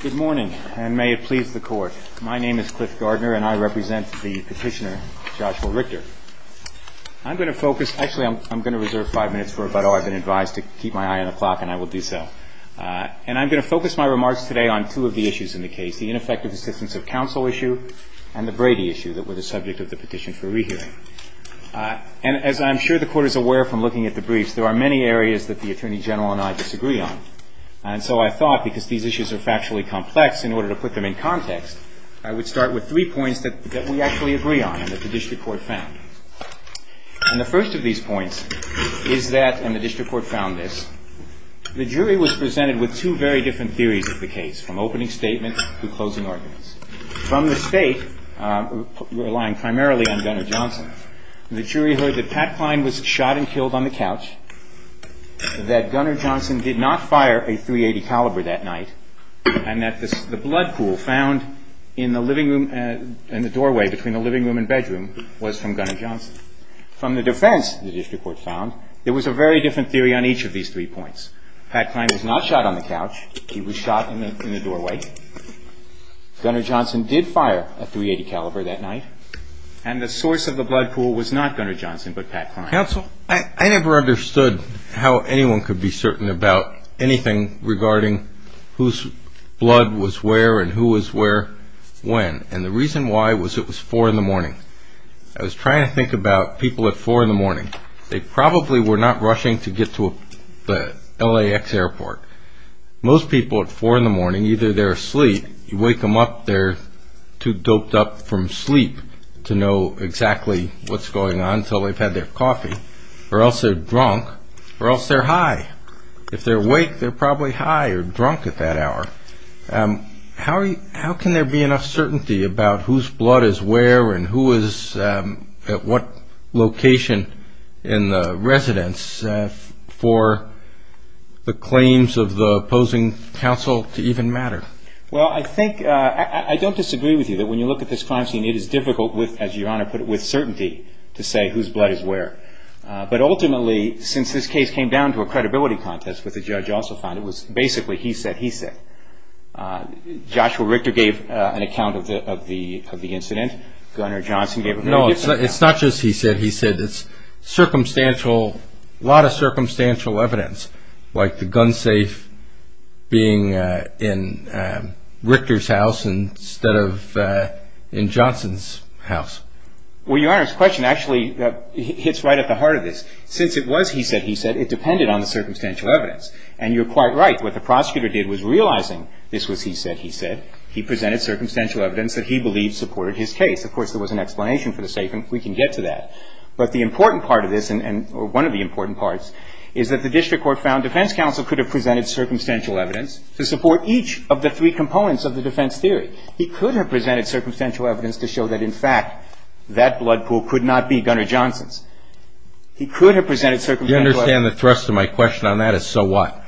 Good morning, and may it please the Court. My name is Cliff Gardner, and I represent the petitioner, Joshua Richter. I'm going to focus – actually, I'm going to reserve five minutes for about all I've been advised to keep my eye on the clock, and I will do so. And I'm going to focus my remarks today on two of the issues in the case, the ineffective assistance of counsel issue and the Brady issue that were the subject of the petition for rehearing. And as I'm sure the Court is aware from looking at the briefs, there are many areas that the Attorney General and I disagree on. And so I thought, because these issues are factually complex, in order to put them in context, I would start with three points that we actually agree on and that the District Court found. And the first of these points is that – and the District Court found this – the jury was presented with two very different theories of the case, from opening statements to closing ordinance. From the State, relying primarily on Gunner Johnson, the jury heard that Pat Kline was shot and killed on the couch, that Gunner Johnson did not fire a .380 caliber that night, and that the blood pool found in the living room – in the doorway between the living room and bedroom was from Gunner Johnson. From the defense, the District Court found, there was a very different theory on each of these three points. Pat Kline was not shot on the couch. He was shot in the doorway. Gunner Johnson did fire a .380 caliber that night. And the source of the blood pool was not Gunner Johnson, but Pat Kline. Counsel, I never understood how anyone could be certain about anything regarding whose blood was where and who was where when. And the reason why was it was 4 in the morning. I was trying to think about people at 4 in the morning. They probably were not rushing to get to the LAX airport. Most people at 4 in the morning, either they're asleep, you wake them up, they're too doped up from sleep to know exactly what's going on until they've had their coffee, or else they're drunk, or else they're high. If they're awake, they're probably high or drunk at that hour. How can there be enough certainty about whose blood is where and who is at what location in the residence for the claims of the opposing counsel to even matter? Well, I think – I don't disagree with you that when you look at this crime scene, it is difficult with, as Your Honor put it, with certainty to say whose blood is where. But ultimately, since this case came down to a credibility contest, which the judge also found, it was basically he said, he said. Joshua Richter gave an account of the incident. Gunner Johnson gave an account. No, it's not just he said, he said. It's circumstantial – a lot of circumstantial evidence, like the gun safe being in Richter's house instead of in Johnson's house. Well, Your Honor, his question actually hits right at the heart of this. Since it was he said, he said, it depended on the circumstantial evidence. And you're quite right. What the prosecutor did was realizing this was he said, he said. He presented circumstantial evidence that he believed supported his case. Of course, there was an explanation for the safe, and we can get to that. But the important part of this, or one of the important parts, is that the district court found defense counsel could have presented circumstantial evidence to support each of the three components of the defense theory. He could have presented circumstantial evidence to show that, in fact, that blood pool could not be Gunner Johnson's. He could have presented circumstantial evidence – Do you understand the thrust of my question on that is, so what?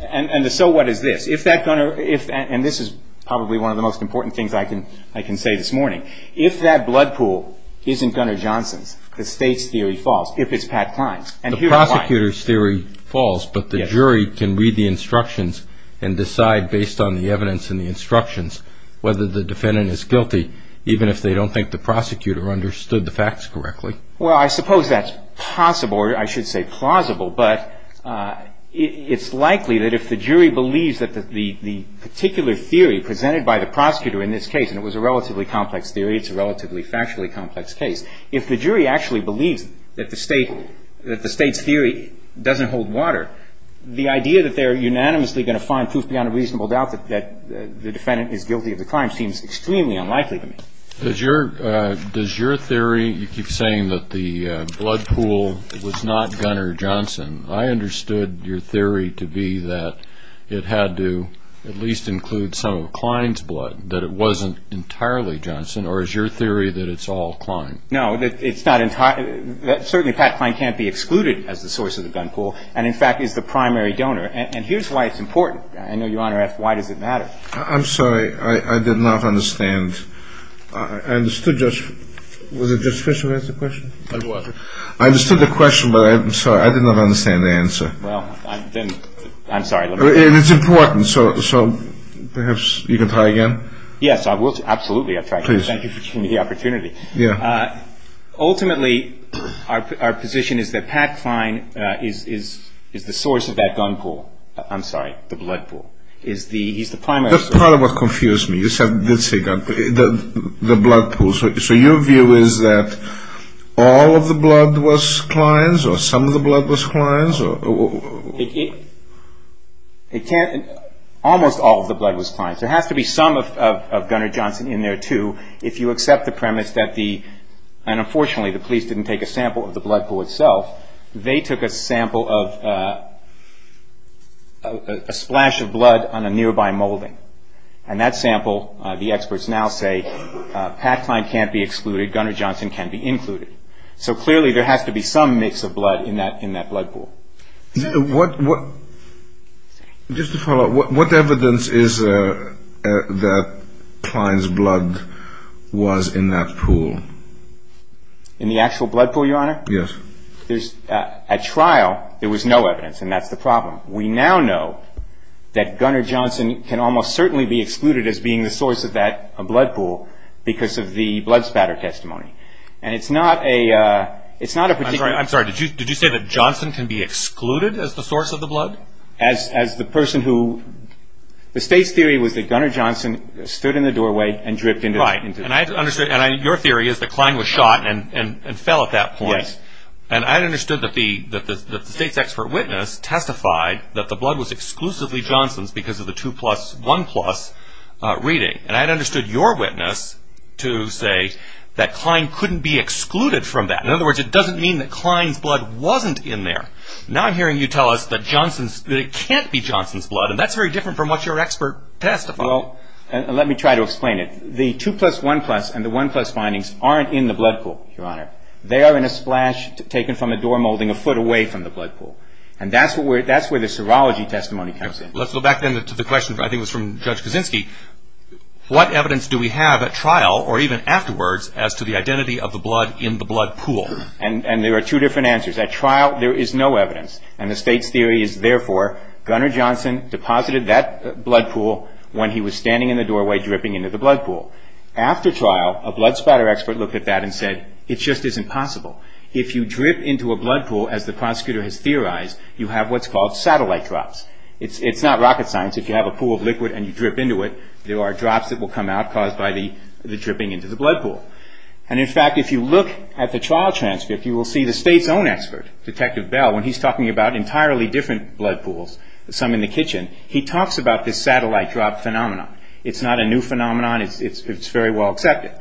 And the so what is this. If that Gunner – and this is probably one of the most important things I can say this morning. If that blood pool isn't Gunner Johnson's, the State's theory falls, if it's Pat Klein's. The prosecutor's theory falls, but the jury can read the instructions and decide, based on the evidence in the instructions, whether the defendant is guilty, even if they don't think the prosecutor understood the facts correctly. Well, I suppose that's possible, or I should say plausible, but it's likely that if the jury believes that the particular theory presented by the prosecutor in this case – and it was a relatively complex theory, it's a relatively factually complex case – if the State's theory doesn't hold water, the idea that they are unanimously going to find proof beyond a reasonable doubt that the defendant is guilty of the crime seems extremely unlikely to me. Does your theory – you keep saying that the blood pool was not Gunner Johnson. I understood your theory to be that it had to at least include some of Klein's blood, that it wasn't entirely Johnson, or is your theory that it's all Klein? No, it's not entirely – certainly, Pat Klein can't be excluded as the source of the gun pool and, in fact, is the primary donor. And here's why it's important. I know Your Honor asked, why does it matter? I'm sorry. I did not understand. I understood just – was it just Fisher who asked the question? It was. I understood the question, but I'm sorry. I did not understand the answer. Well, then I'm sorry. It's important, so perhaps you can try again? Yes, I will. Absolutely, I'll try again. Please. Thank you for giving me the opportunity. Yeah. Ultimately, our position is that Pat Klein is the source of that gun pool – I'm sorry, the blood pool. He's the primary source. That's part of what confused me. You said – you did say gun pool – the blood pool. So your view is that all of the blood was Klein's, or some of the blood was Klein's? It can't – almost all of the blood was Klein's. There has to be some of Gunner Johnson in there, too, if you accept the premise that the – and unfortunately, the police didn't take a sample of the blood pool itself. They took a sample of a splash of blood on a nearby molding. And that sample, the experts now say, Pat Klein can't be excluded, Gunner Johnson can't be included. So clearly, there has to be some mix of blood in that blood pool. Just to follow up, what evidence is there that Klein's blood was in that pool? In the actual blood pool, Your Honor? Yes. At trial, there was no evidence, and that's the problem. We now know that Gunner Johnson can almost certainly be excluded as being the source of that blood pool because of the blood spatter testimony. And it's not a particular – I'm sorry, did you say that Johnson can be excluded as the source of the blood? As the person who – the State's theory was that Gunner Johnson stood in the doorway and dripped into – Right. And I understood – and your theory is that Klein was shot and fell at that point. And I understood that the State's expert witness testified that the blood was exclusively Johnson's because of the 2 plus 1 plus reading. And I understood your witness to say that Klein's blood wasn't in there. Now I'm hearing you tell us that Johnson's – that it can't be Johnson's blood. And that's very different from what your expert testified. Well, let me try to explain it. The 2 plus 1 plus and the 1 plus findings aren't in the blood pool, Your Honor. They are in a splash taken from a door molding a foot away from the blood pool. And that's where the serology testimony comes in. Let's go back then to the question, I think it was from Judge Kaczynski. What evidence do we have at trial, or even afterwards, as to the identity of the blood in the blood pool? In the blood pool. And there are two different answers. At trial, there is no evidence. And the State's theory is, therefore, Gunner Johnson deposited that blood pool when he was standing in the doorway dripping into the blood pool. After trial, a blood spatter expert looked at that and said, it just isn't possible. If you drip into a blood pool, as the prosecutor has theorized, you have what's called satellite drops. It's not rocket science. If you have a pool of liquid and you drip into it, there are drops that will come out caused by the dripping into the blood pool. And in fact, if you look at the trial transcript, you will see the State's own expert, Detective Bell, when he's talking about entirely different blood pools, some in the kitchen, he talks about this satellite drop phenomenon. It's not a new phenomenon. It's very well accepted.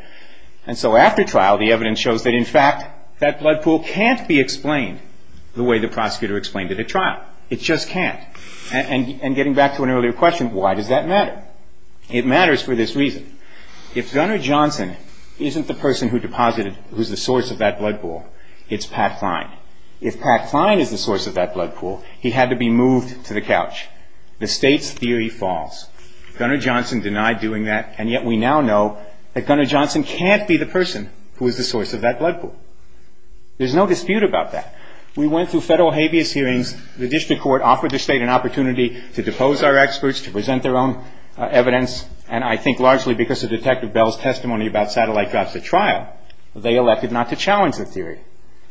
And so after trial, the evidence shows that, in fact, that blood pool can't be explained the way the prosecutor explained it at trial. It just can't. And getting back to an earlier question, why does that matter? It matters for this person who's the source of that blood pool. It's Pat Klein. If Pat Klein is the source of that blood pool, he had to be moved to the couch. The State's theory falls. Gunner Johnson denied doing that, and yet we now know that Gunner Johnson can't be the person who is the source of that blood pool. There's no dispute about that. We went through federal habeas hearings. The district court offered the State an opportunity to depose our experts to present their own evidence, and I think largely because of Detective Bell's testimony about satellite drops at trial, they elected not to challenge the theory.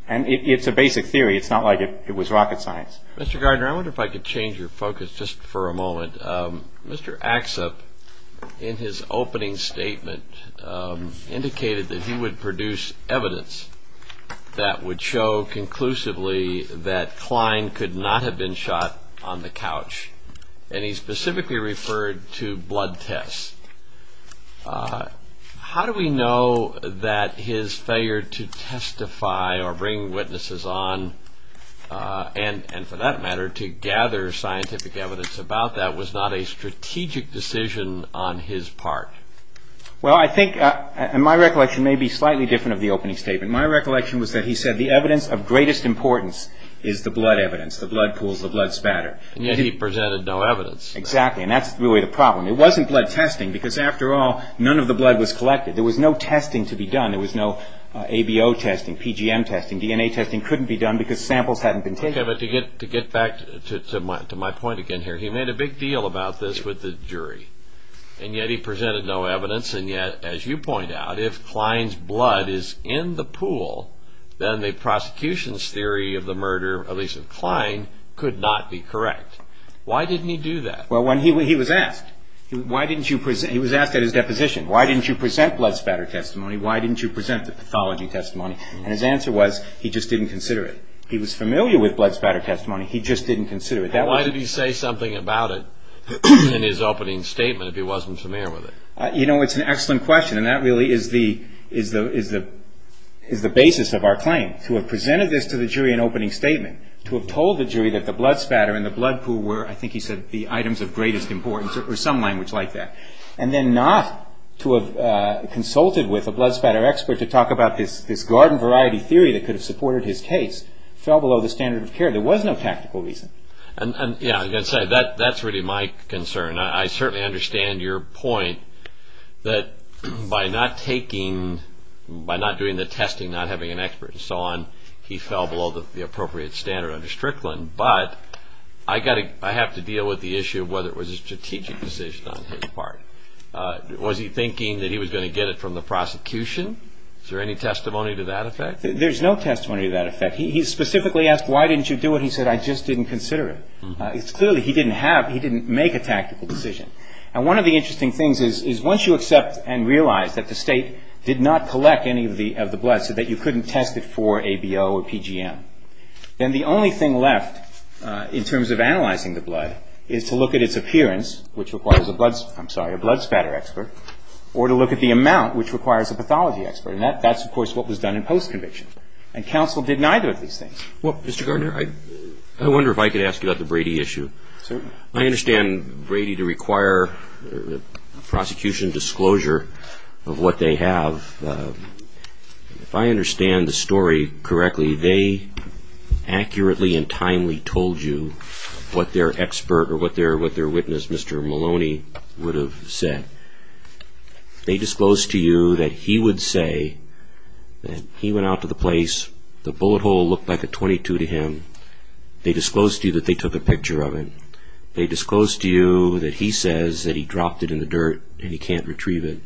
And it's a basic theory. It's not like it was rocket science. Mr. Gardner, I wonder if I could change your focus just for a moment. Mr. Axop, in his opening statement, indicated that he would produce evidence that would show conclusively that Klein could not have been shot on the couch, and he specifically referred to blood tests. How do we know that his failure to testify or bring witnesses on, and for that matter, to gather scientific evidence about that, was not a strategic decision on his part? Well, I think, and my recollection may be slightly different of the opening statement. My recollection was that he said the evidence of greatest importance is the blood evidence, the blood pools, the blood spatter. And yet he presented no evidence. Exactly, and that's really the problem. It wasn't blood testing, because after all, none of the blood was collected. There was no testing to be done. There was no ABO testing, PGM testing, DNA testing couldn't be done because samples hadn't been taken. Okay, but to get back to my point again here, he made a big deal about this with the jury, and yet he presented no evidence, and yet, as you point out, if Klein's blood is in the pool, then the prosecution's theory of the murder, at least of Klein, could not be correct. Why didn't he do that? Well, when he was asked, he was asked at his deposition, why didn't you present blood spatter testimony? Why didn't you present the pathology testimony? And his answer was, he just didn't consider it. He was familiar with blood spatter testimony, he just didn't consider it. Why did he say something about it in his opening statement if he wasn't familiar with it? You know, it's an excellent question, and that really is the basis of our claim. To have presented this to the jury in opening statement, to have told the jury that the two were, I think he said, the items of greatest importance, or some language like that, and then not to have consulted with a blood spatter expert to talk about this garden variety theory that could have supported his case, fell below the standard of care. There was no tactical reason. Yeah, I've got to say, that's really my concern. I certainly understand your point that by not taking, by not doing the testing, not having an expert and so on, he fell below the appropriate standard under Strickland, but I have to deal with the issue of whether it was a strategic decision on his part. Was he thinking that he was going to get it from the prosecution? Is there any testimony to that effect? There's no testimony to that effect. He specifically asked, why didn't you do it? He said, I just didn't consider it. Clearly, he didn't have, he didn't make a tactical decision. And one of the interesting things is, once you accept and realize that the state did not collect any of the blood, so that you couldn't test it for ABO or PGM, then the only thing left in terms of analyzing the blood is to look at its appearance, which requires a blood spatter, I'm sorry, a blood spatter expert, or to look at the amount, which requires a pathology expert. And that's, of course, what was done in post-conviction. And counsel did neither of these things. Well, Mr. Gardner, I wonder if I could ask you about the Brady issue. Certainly. I understand Brady to require prosecution disclosure of what they have. If I understand the story correctly, they accurately and timely told you what their expert or what their witness, Mr. Maloney, would have said. They disclosed to you that he would say that he went out to the place, the bullet hole looked like a 22 to him. They disclosed to you that they took a picture of it. They disclosed to you that he says that he dropped it in the dirt and he can't retrieve it.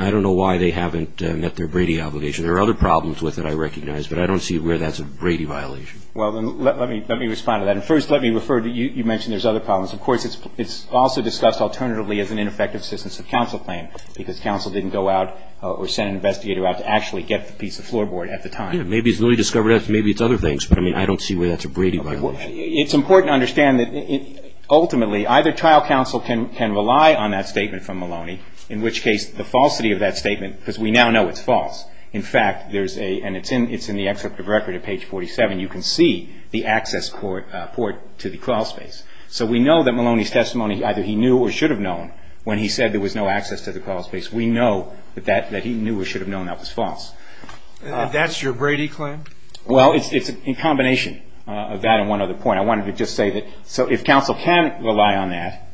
I don't know why they haven't met their Brady obligation. There are other problems with it, I recognize, but I don't see where that's a Brady violation. Well, let me respond to that. And first, let me refer to, you mentioned there's other problems. Of course, it's also discussed alternatively as an ineffective assistance of counsel claim, because counsel didn't go out or send an investigator out to actually get the piece of floorboard at the time. Yeah, maybe it's newly discovered. Maybe it's other things. But, I mean, I don't see where that's a Brady violation. It's important to understand that ultimately either trial counsel can rely on that statement from Maloney, in which case the falsity of that statement, because we now know it's false. In fact, there's a, and it's in the excerpt of record at page 47, you can see the access port to the crawl space. So we know that Maloney's testimony, either he knew or should have known when he said there was no access to the crawl space. We know that he knew or should have known that was false. That's your Brady claim? Well, it's in combination of that and one other point. I wanted to just say that, so if counsel can rely on that,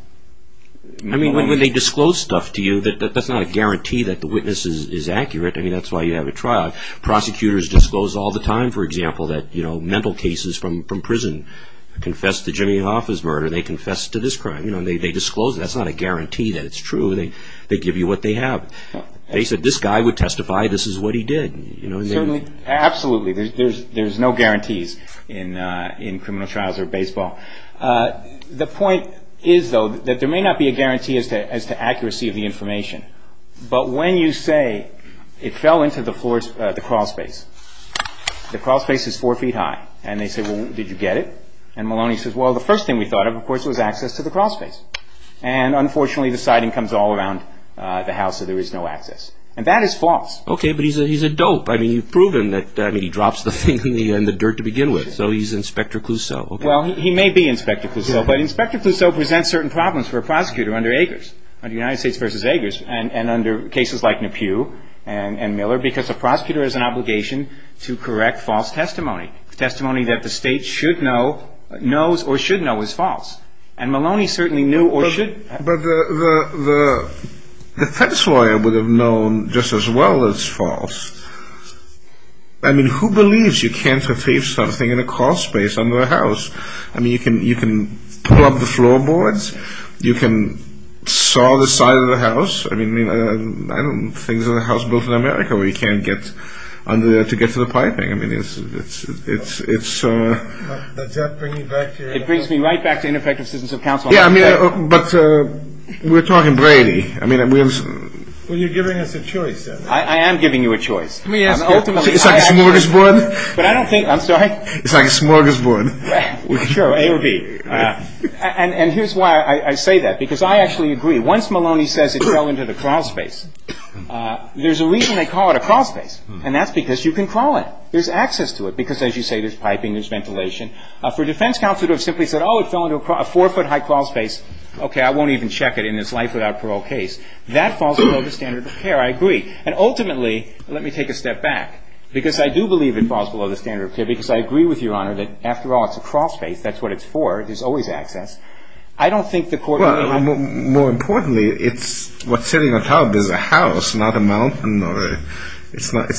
I mean, when they disclose stuff to you, that's not a guarantee that the witness is accurate. I mean, that's why you have a trial. Prosecutors disclose all the time, for example, that, you know, mental cases from prison, confess to Jimmy Hoffa's murder, they confess to this crime. You know, they disclose it. That's not a guarantee that it's true. They give you what they have. They said, this guy would testify this is what he did, you know, and they Absolutely. There's no guarantees in criminal trials or baseball. The point is, though, that there may not be a guarantee as to accuracy of the information, but when you say it fell into the crawl space, the crawl space is four feet high, and they say, well, did you get it? And Maloney says, well, the first thing we thought of, of course, was access to the crawl space. And unfortunately, the sighting comes all around the house, so there is no access. And that is false. Okay, but he's a dope. I mean, you've proven that, I mean, he drops the thing in the dirt to begin with, so he's Inspector Clouseau. Well, he may be Inspector Clouseau, but Inspector Clouseau presents certain problems for a prosecutor under Agers, under United States v. Agers, and under cases like Nepew and Miller, because a prosecutor has an obligation to correct false testimony. Testimony that the state should know, knows or should know is false. And Maloney certainly knew or should But the defense lawyer would have known just as well that it's false. I mean, who believes you can't retrieve something in a crawl space under a house? I mean, you can pull up the floorboards, you can saw the side of the house, I mean, I don't know, things in a house built in America where you can't get under there to get to the piping. I mean, it's, it's, it's It brings me right back to ineffective citizens of counsel. Yeah, I mean, but we're talking Brady. I mean, we have Well, you're giving us a choice, then. I am giving you a choice. Let me ask you It's like a smorgasbord? But I don't think I'm sorry? It's like a smorgasbord. Sure, A or B. And here's why I say that, because I actually agree. Once Maloney says it fell into the crawl space, there's a reason they call it a crawl space, and that's because you can crawl it. There's access to it, because as you say, there's piping, there's ventilation. For a defense counsel to have simply said, oh, it fell into a four-foot-high crawl space, okay, I won't even check it in this life-without-parole case. That falls below the standard of care. I agree. And ultimately, let me take a step back, because I do believe it falls below the standard of care, because I agree with Your Honor that, after all, it's a crawl space. That's what it's for. There's always access. I don't think the court Well, more importantly, it's, what's sitting on top is a house, not a mountain or a, it's not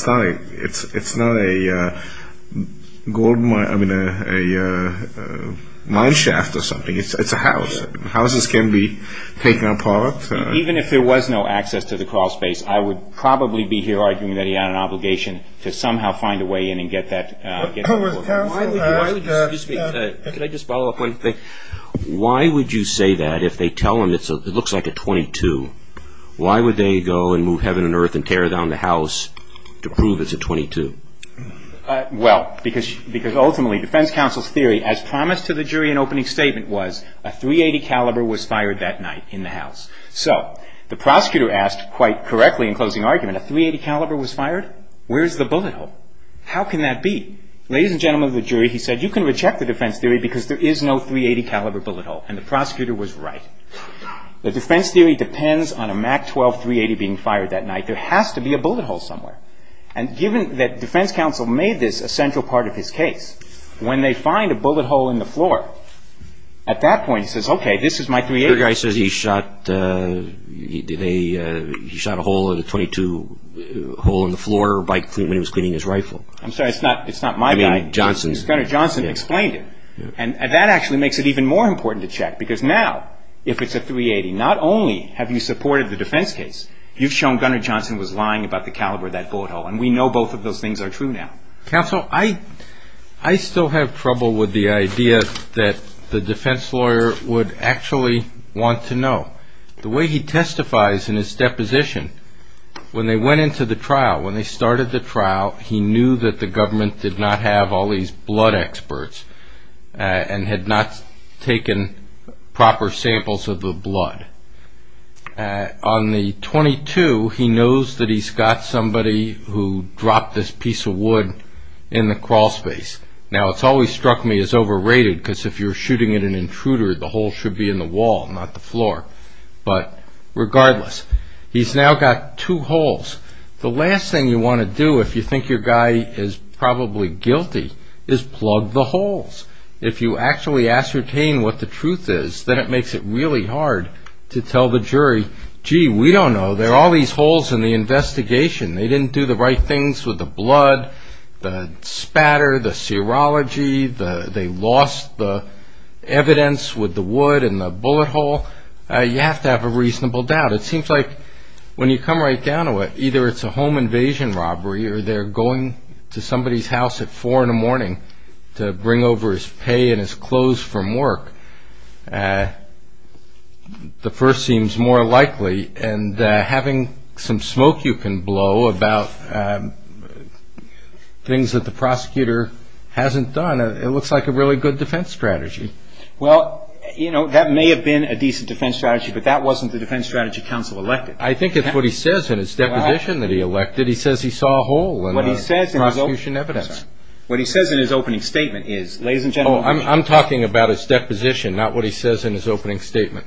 a gold mine, I mean, a mine shaft or something. It's a house. Houses can be taken apart. Even if there was no access to the crawl space, I would probably be here arguing that he had an obligation to somehow find a way in and get that With counsel, I Excuse me. Could I just follow up one thing? Why would you say that if they tell him it Well, because ultimately, defense counsel's theory, as promised to the jury in opening statement was, a .380 caliber was fired that night in the house. So, the prosecutor asked quite correctly in closing argument, a .380 caliber was fired? Where's the bullet hole? How can that be? Ladies and gentlemen of the jury, he said, you can reject the defense theory because there is no .380 caliber bullet hole. And the prosecutor was right. The defense theory depends on a MAC-12 .380 being fired that night. There has to be a bullet hole somewhere. And given that defense counsel made this a central part of his case, when they find a bullet hole in the floor, at that point, he says, okay, this is my .380. Your guy says he shot, he did a, he shot a hole in a .22 hole in the floor when he was cleaning his rifle. I'm sorry, it's not, it's not my guy. I mean, Johnson's Gunner Johnson explained it. And that actually makes it even more important to check because now, if it's a .380, not only have you supported the defense case, you've shown Gunner Johnson was lying about the caliber of that bullet hole. And we know both of those things are true now. Counsel, I, I still have trouble with the idea that the defense lawyer would actually want to know. The way he testifies in his deposition, when they went into the trial, when they started the trial, he knew that the government did not have all these blood experts and had not taken proper samples of the blood. On the .22, he knows that he's got somebody who dropped this piece of wood in the crawl space. Now, it's always struck me as overrated because if you're shooting at an intruder, the hole should be in the wall, not the floor. But regardless, he's now got two holes. The last thing you want to do if you think your guy is probably guilty is plug the holes. If you actually ascertain what the truth is, then it makes it really hard to tell the jury, gee, we don't know. There are all these holes in the investigation. They didn't do the right things with the blood, the spatter, the serology, the, they lost the evidence with the wood and the bullet hole. You have to have a reasonable doubt. It seems like when you come right down to it, either it's a home invasion robbery or they're going to somebody's house at four in the morning to bring over his pay and his clothes from work. The first seems more likely and having some smoke you can blow about things that the prosecutor hasn't done, it looks like a really good defense strategy. Well, you know, that may have been a decent defense strategy, but that wasn't the defense strategy counsel elected. I think it's what he says in his deposition that he elected. He says he saw a hole in the prosecution evidence. What he says in his opening statement is, ladies and gentlemen, I'm talking about his deposition, not what he says in his opening statement.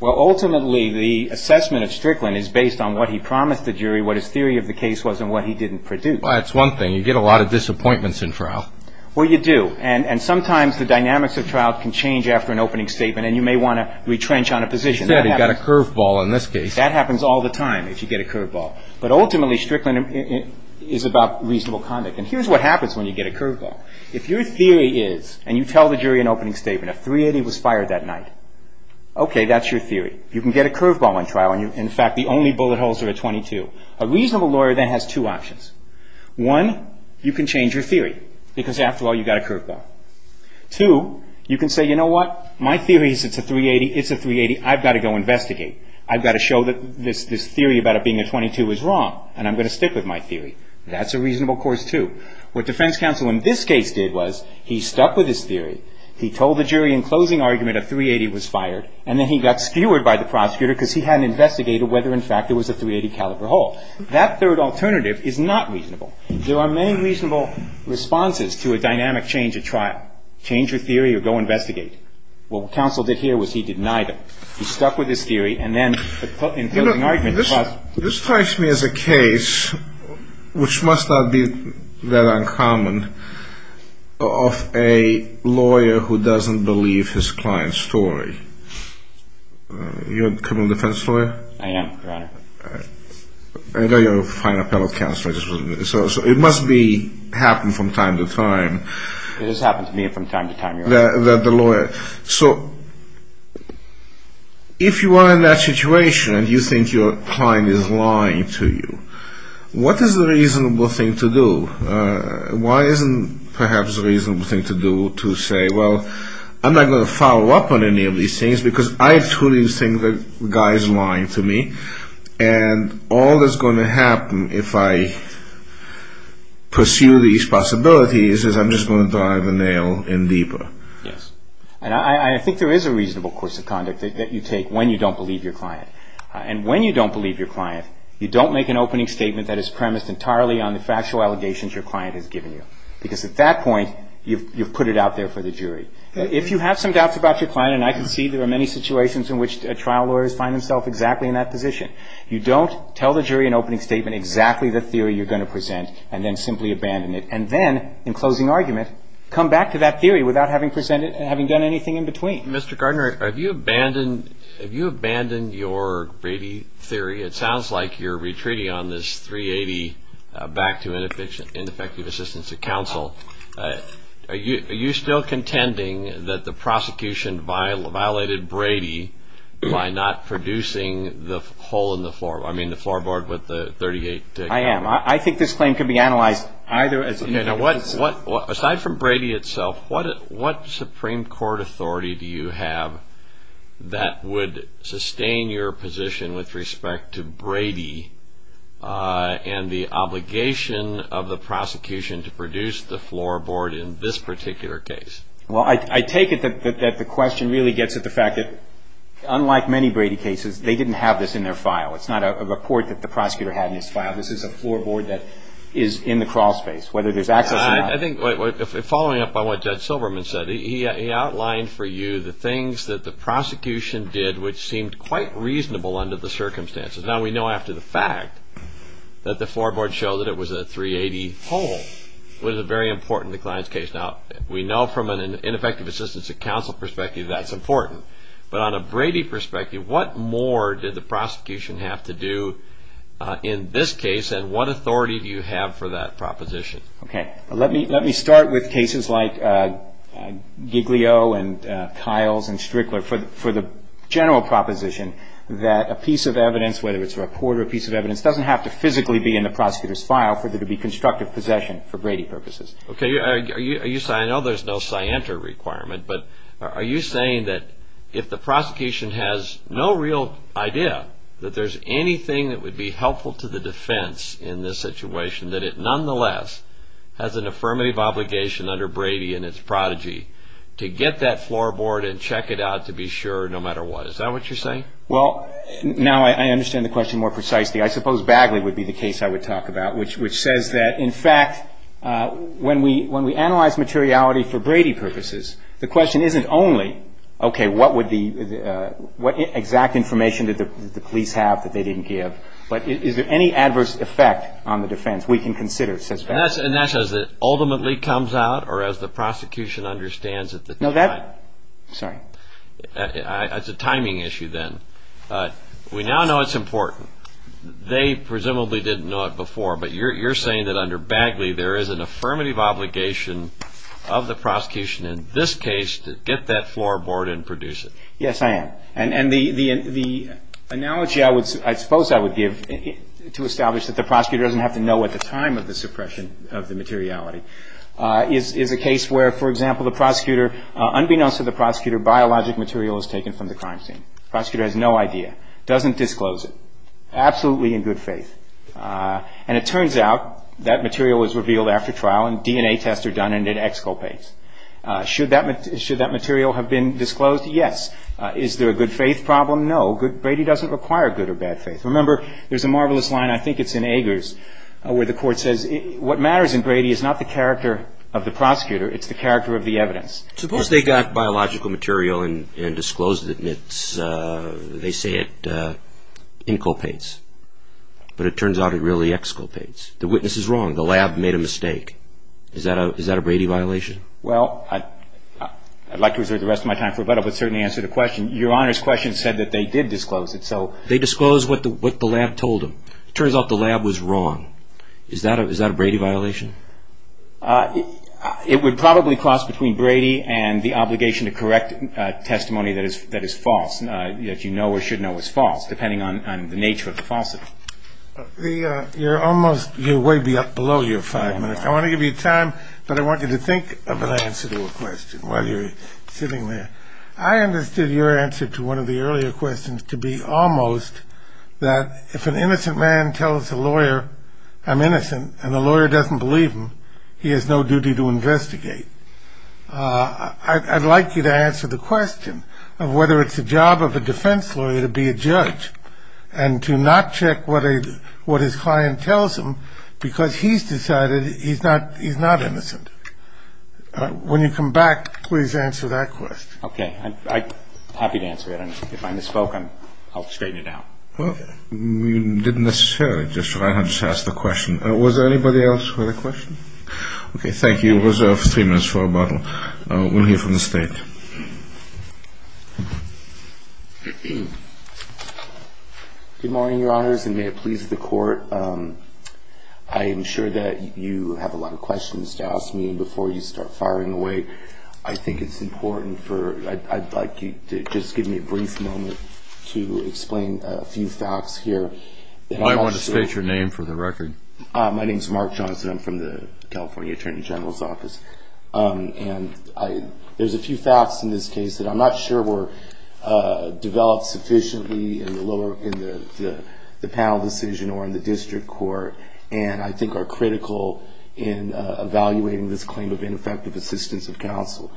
Well, ultimately the assessment of Strickland is based on what he promised the jury, what his theory of the case was and what he didn't produce. Well, that's one thing. You get a lot of disappointments in trial. Well, you do. And sometimes the dynamics of trial can change after an opening statement and you may want to retrench on a position. He said he got a curveball in this case. That happens all the time if you get a curveball. But ultimately Strickland is about reasonable conduct. And here's what happens when you get a curveball. If your theory is, and you tell the jury an opening statement, a .380 was fired that night. Okay, that's your theory. You can get a curveball in trial and in fact the only bullet holes are a .22. A reasonable lawyer then has two options. One, you can change your theory because after all you got a curveball. Two, you can say, you know what, my theory is it's a .380. It's a .380. I've got to go investigate. I've got to show that this theory about it being a .22 is wrong and I'm going to stick with my theory. That's a reasonable course too. What defense counsel in this case did was he stuck with his theory. He told the jury in closing argument a .380 was fired and then he got skewered by the prosecutor because he hadn't investigated whether in fact it was a .380 caliber hole. That third alternative is not reasonable. There are many reasonable responses to a dynamic change of trial. Change your theory or go investigate. What counsel did here was he denied them. He stuck with his theory and then in closing argument. This strikes me as a case which must not be that uncommon of a lawyer who doesn't believe his client's story. You're a criminal defense lawyer? I am, Your Honor. I know you're a fine appellate counsel. It must happen from time to time. It has happened to me from time to time, Your Honor. So if you are in that situation and you think your client is lying to you, what is a reasonable thing to do? Why isn't perhaps a reasonable thing to do to say, well, I'm not going to follow up on any of these things because I truly think the guy is lying to me. And all that's going to happen if I pursue these possibilities is I'm just going to drive the nail in deeper. Yes. And I think there is a reasonable course of conduct that you take when you don't believe your client. And when you don't believe your client, you don't make an opening statement that is premised entirely on the factual allegations your client has given you. Because at that point, I can see there are many situations in which trial lawyers find themselves exactly in that position. You don't tell the jury an opening statement, exactly the theory you're going to present, and then simply abandon it. And then, in closing argument, come back to that theory without having done anything in between. Mr. Gardner, have you abandoned your Brady theory? It sounds like you're retreating on this 380 back to ineffective assistance of counsel. Are you still contending that the prosecution violated Brady by not producing the floor board with the 380? I am. I think this claim can be analyzed either as an ineffective assistance... Aside from Brady itself, what Supreme Court authority do you have that would sustain your position with respect to Brady and the obligation of the prosecution to produce the floor board in this particular case? I take it that the question really gets at the fact that, unlike many Brady cases, they didn't have this in their file. It's not a report that the prosecutor had in his file. This is a floor board that is in the crawl space, whether there's access or not. Following up on what Judge Silberman said, he outlined for you the things that the prosecution did which seemed quite reasonable under the circumstances. Now, we know after the fact that the floor board showed that it was a 380 hole. It was very important in the client's case. We know from an ineffective assistance of counsel perspective that's important. But on a Brady perspective, what more did the prosecution have to do in this case and what authority do you have for that proposition? Let me start with cases like Giglio and Kiles and Strickler for the general proposition that a piece of evidence, whether it's a report or a piece of evidence, doesn't have to physically be in the prosecutor's file for there to be constructive possession for Brady purposes. I know there's no scienter requirement, but are you saying that if the prosecution has no real idea that there's anything that would be helpful to the defense in this situation that it nonetheless has an affirmative obligation under Brady and its prodigy to get that floor board and check it out to be sure no matter what? Is that what you're saying? Well, now I understand the question more precisely. I suppose Bagley would be the case I would talk about, which says that, in fact, when we analyze materiality for Brady purposes, the question isn't only, okay, what exact information did the police have that they didn't give, but is there any adverse effect on the defense? We can consider, says Bagley. And that's as it ultimately comes out or as the prosecution understands it. No, that's a timing issue then. We now know it's important. They presumably didn't know it before, but you're saying that under Bagley there is an affirmative obligation of the prosecution in this case to get that floor board and produce it. Yes, I am. And the analogy I suppose I would give to establish that the prosecutor doesn't have to know at the time of the suppression of the materiality is a case where, for example, the prosecutor, unbeknownst to the prosecutor, biologic material is taken from the crime scene. The prosecutor has no idea, doesn't disclose it, absolutely in good faith. And it turns out that material is revealed after trial and DNA tests are done and it exculpates. Should that material have been disclosed? Yes. Is there a good faith problem? No. Brady doesn't require good or bad faith. Remember, there's a marvelous line, I think it's in Agers, where the court says what matters in Brady is not the character of the prosecutor, it's the character of the evidence. Suppose they got biological material and disclosed it and they say it inculpates, but it turns out it really exculpates. The witness is wrong, the lab made a mistake. Is that a Brady violation? Well, I'd like to reserve the rest of my time for Rebecca, but certainly answer the question. Your Honor's question said that they did disclose it, so... They disclosed what the lab told them. It turns out the lab was wrong. Is that a Brady violation? It would probably cross between Brady and the obligation to correct testimony that is false, that you know or should know is false, depending on the nature of the falsity. You're almost, you're way up below your five minutes. I want to give you time, but I want you to think of an answer to a question while you're sitting there. I understood your answer to one of the earlier questions to be almost that if an innocent man tells a lawyer I'm going to leave him, he has no duty to investigate. I'd like you to answer the question of whether it's the job of a defense lawyer to be a judge and to not check what his client tells him because he's decided he's not innocent. When you come back, please answer that question. Okay. I'm happy to answer it. If I misspoke, I'll straighten it out. Well, you didn't necessarily. I just asked the question. Was there anybody else with a question? Okay. Thank you. We'll reserve three minutes for a bottle. We'll hear from the State. Good morning, Your Honors, and may it please the Court. I am sure that you have a lot of questions to ask me before you start firing away. I think it's important for, I'd like you to just give me a brief moment to explain a few facts here. I want to state your name for the record. My name is Mark Johnson. I'm from the California Attorney General's Office. There's a few facts in this case that I'm not sure were developed sufficiently in the panel decision or in the district court and I think are critical in evaluating this claim of ineffective assistance of counsel.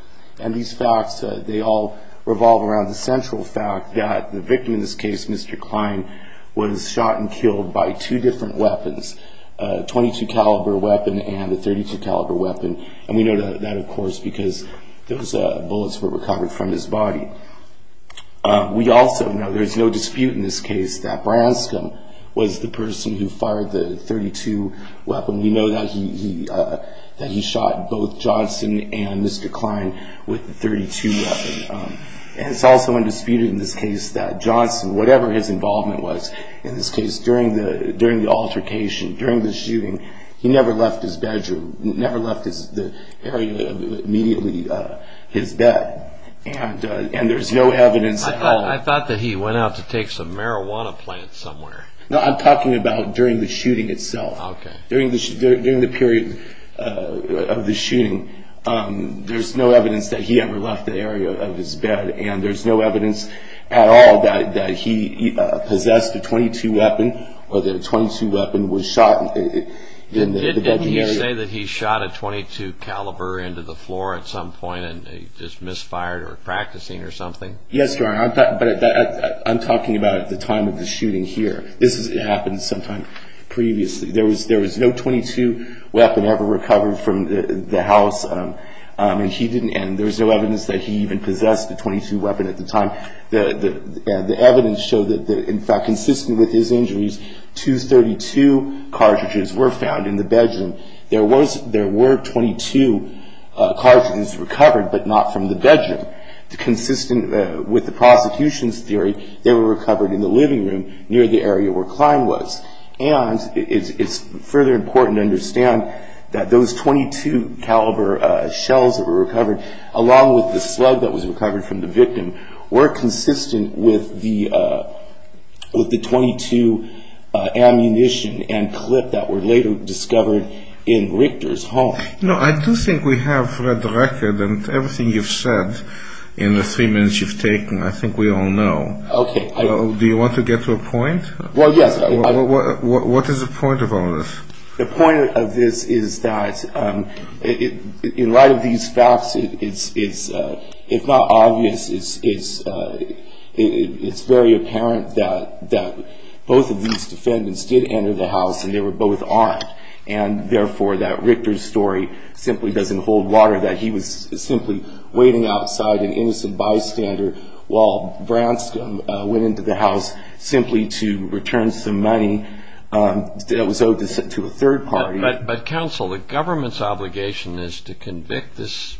These facts, they all revolve around the central fact that the victim in this case, Mr. Klein, was shot and killed by two different weapons, a .22 caliber weapon and a .32 caliber weapon. We know that, of course, because those bullets were recovered from his body. We also know, there's no dispute in this case, that Branscom was the person who fired the .32 weapon. We know that he shot both Johnson and Mr. Klein with the .32 weapon. It's also undisputed in this case that Johnson, whatever his involvement was in this case, during the altercation, during the shooting, he never left his bedroom, never left the area immediately his bed and there's no evidence at all. I thought that he went out to take some marijuana plants somewhere. No, I'm talking about during the shooting itself. During the period of the shooting, there's no evidence that he ever left the area of his bed and there's no evidence at all that he possessed a .22 weapon or that a .22 weapon was shot in the bedroom area. Didn't he say that he shot a .22 caliber into the floor at some point and just misfired or practicing or something? Yes, but I'm talking about at the time of the shooting here. This happened sometime previously. There was no .22 weapon ever recovered from the house and there's no evidence that he even possessed a .22 weapon at the time. The evidence showed that, in fact, consistent with his injuries, two .32 cartridges were found in the bedroom. There were .22 cartridges recovered, but not from the bedroom. Consistent with the prosecution's theory, they were recovered in the living room near the area where Klein was. And it's further important to understand that those .22 caliber shells that were recovered, along with the slug that was recovered from the victim, were consistent with the .22 ammunition and clip that were later discovered in Richter's home. No, I do think we have read the record and everything you've said in the three minutes you've taken. I think we all know. Okay. Do you want to get to a point? Well, yes. What is the point of all this? The point of this is that in light of these facts, it's, if not obvious, it's very apparent that both of these defendants did enter the house and they were both armed. And, therefore, that Richter's story simply doesn't hold water, that he was simply waiting outside an innocent bystander while Branscombe went into the house simply to return some money that was owed to a third party. But, counsel, the government's obligation is to convict this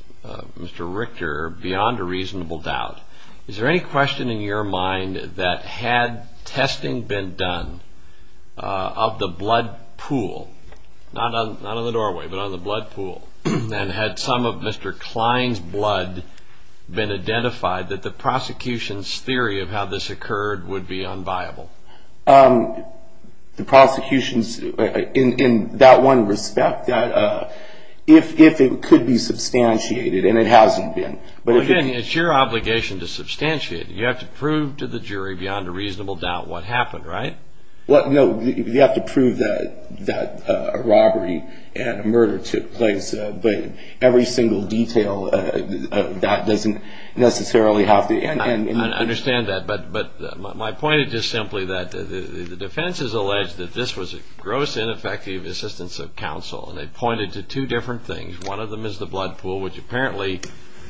Mr. Richter beyond a reasonable doubt. Is there any question in your mind that had testing been done of the blood pool, not on the doorway, but on the blood pool, and had some of Mr. Klein's blood been identified, that the prosecution's theory of how this occurred would be unviable? The prosecution's, in that one respect, if it could be substantiated, and it hasn't been. Well, again, it's your obligation to substantiate. You have to prove to the jury beyond a reasonable doubt what happened, right? Well, no, you have to prove that a robbery and a murder took place, but every single detail of that doesn't necessarily have to... I understand that, but my point is just simply that the defense has alleged that this was a gross, ineffective assistance of counsel, and they pointed to two different things. One of them is the blood pool, which apparently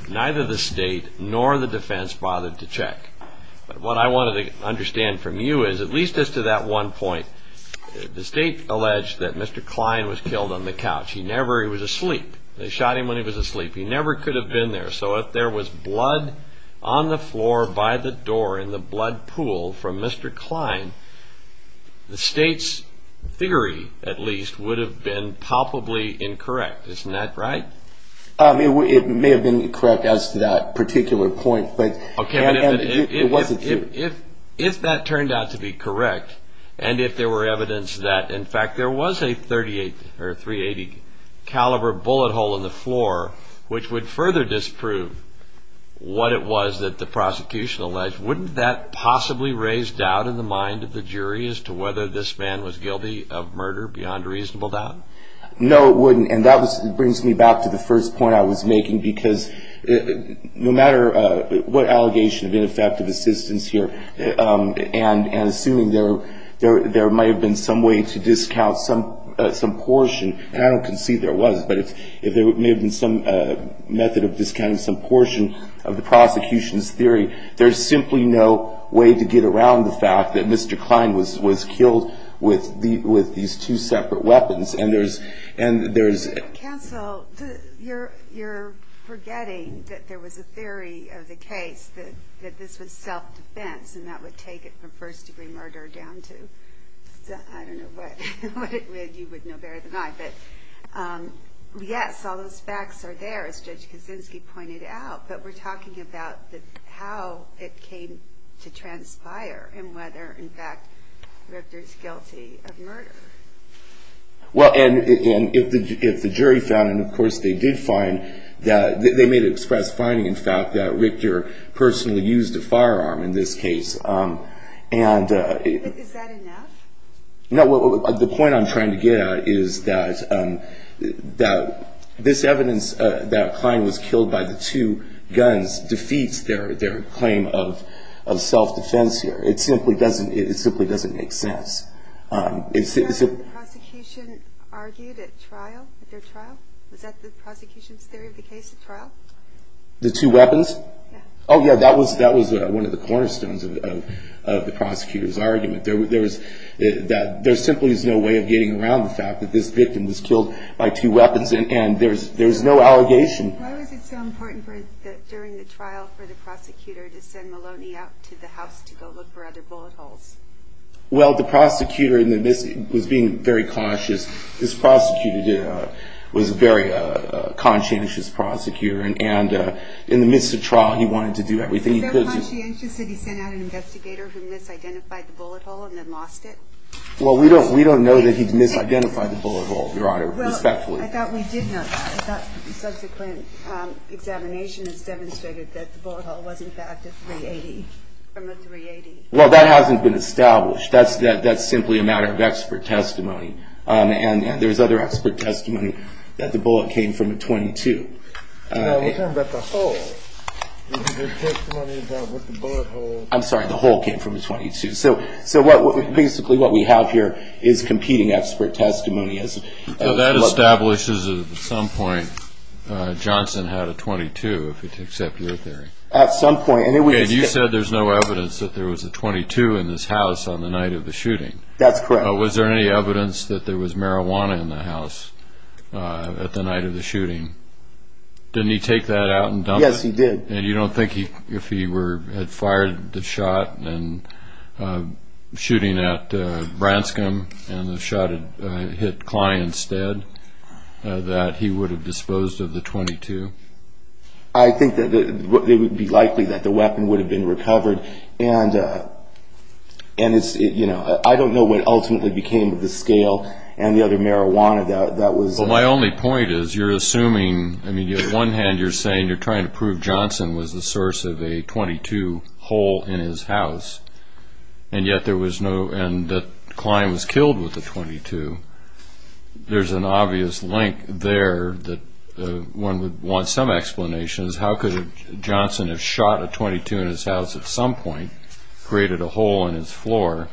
neither the state nor the defense bothered to check. But what I wanted to understand from you is, at least as to that one point, the state alleged that Mr. Klein was killed on the couch. He never... he was asleep. They shot him when he was asleep. He never could have been there, so if there was blood on the floor by the door in the blood pool from Mr. Klein, the state's theory, at least, would have been palpably incorrect. Isn't that right? It may have been correct as to that particular point, but... Okay, but if that turned out to be correct, and if there were evidence that, in fact, there was a .380 caliber bullet hole in the floor, which would further disprove what it was that the prosecution alleged, wouldn't that possibly raise doubt in the mind of the jury as to whether this man was guilty of murder beyond reasonable doubt? No, it wouldn't, and that brings me back to the first point I was making, because no matter what allegation of ineffective assistance here, and assuming there might have been some way to discount some portion, and I don't concede there was, but if there may have been some method of discounting some portion of the prosecution's theory, there's simply no way to get around the fact that Mr. Klein was killed with these two separate weapons, and there's... Counsel, you're forgetting that there was a theory of the case that this was self-defense, and that would take it from first-degree murder down to, I don't know what, you would know better than I, but yes, all those facts are there, as Judge Kaczynski pointed out, but we're talking about how it came to transpire, and whether, in fact, Richter's guilty of murder. Well, and if the jury found, and of course they did find, they may have expressed finding, in fact, that Richter personally used a firearm in this case, and... Is that enough? No, the point I'm trying to get at is that this evidence that Klein was killed by the two guns defeats their claim of Was that what the prosecution argued at trial, at their trial? Was that the prosecution's theory of the case at trial? The two weapons? Yeah. Oh, yeah, that was one of the cornerstones of the prosecutor's argument, that there simply is no way of getting around the fact that this victim was killed by two weapons, and there's no allegation. Why was it so important during the trial for the prosecutor to send Maloney out to the house to go look for other bullet holes? Well, the prosecutor was being very cautious. This prosecutor was a very conscientious prosecutor, and in the midst of trial, he wanted to do everything he could to... Was he so conscientious that he sent out an investigator who misidentified the bullet hole and then lost it? Well, we don't know that he misidentified the bullet hole, Your Honor, respectfully. Well, I thought we did know that. I thought subsequent examination has demonstrated that the bullet hole was, in fact, a .380, from a .380. Well, that hasn't been established. That's simply a matter of expert testimony, and there's other expert testimony that the bullet came from a .22. No, we're talking about the hole. Your testimony about what the bullet hole... I'm sorry, the hole came from a .22. So basically what we have here is competing expert testimony. So that establishes that at some point, Johnson had a .22, if I can accept your theory. At some point, and it was... It was a .22 in this house on the night of the shooting. That's correct. Was there any evidence that there was marijuana in the house at the night of the shooting? Didn't he take that out and dump it? Yes, he did. And you don't think if he had fired the shot and... shooting at Branscombe, and the shot had hit Klein instead, that he would have disposed of the .22? I think that it would be likely that the weapon would have been recovered, and it's... I don't know what ultimately became of the scale and the other marijuana that was... Well, my only point is you're assuming... I mean, on one hand, you're saying you're trying to prove Johnson was the source of a .22 hole in his house, and yet there was no... and that Klein was killed with a .22. There's an obvious link there that one would want some explanations. How could Johnson have shot a .22 in his house at some point, created a hole in his floor,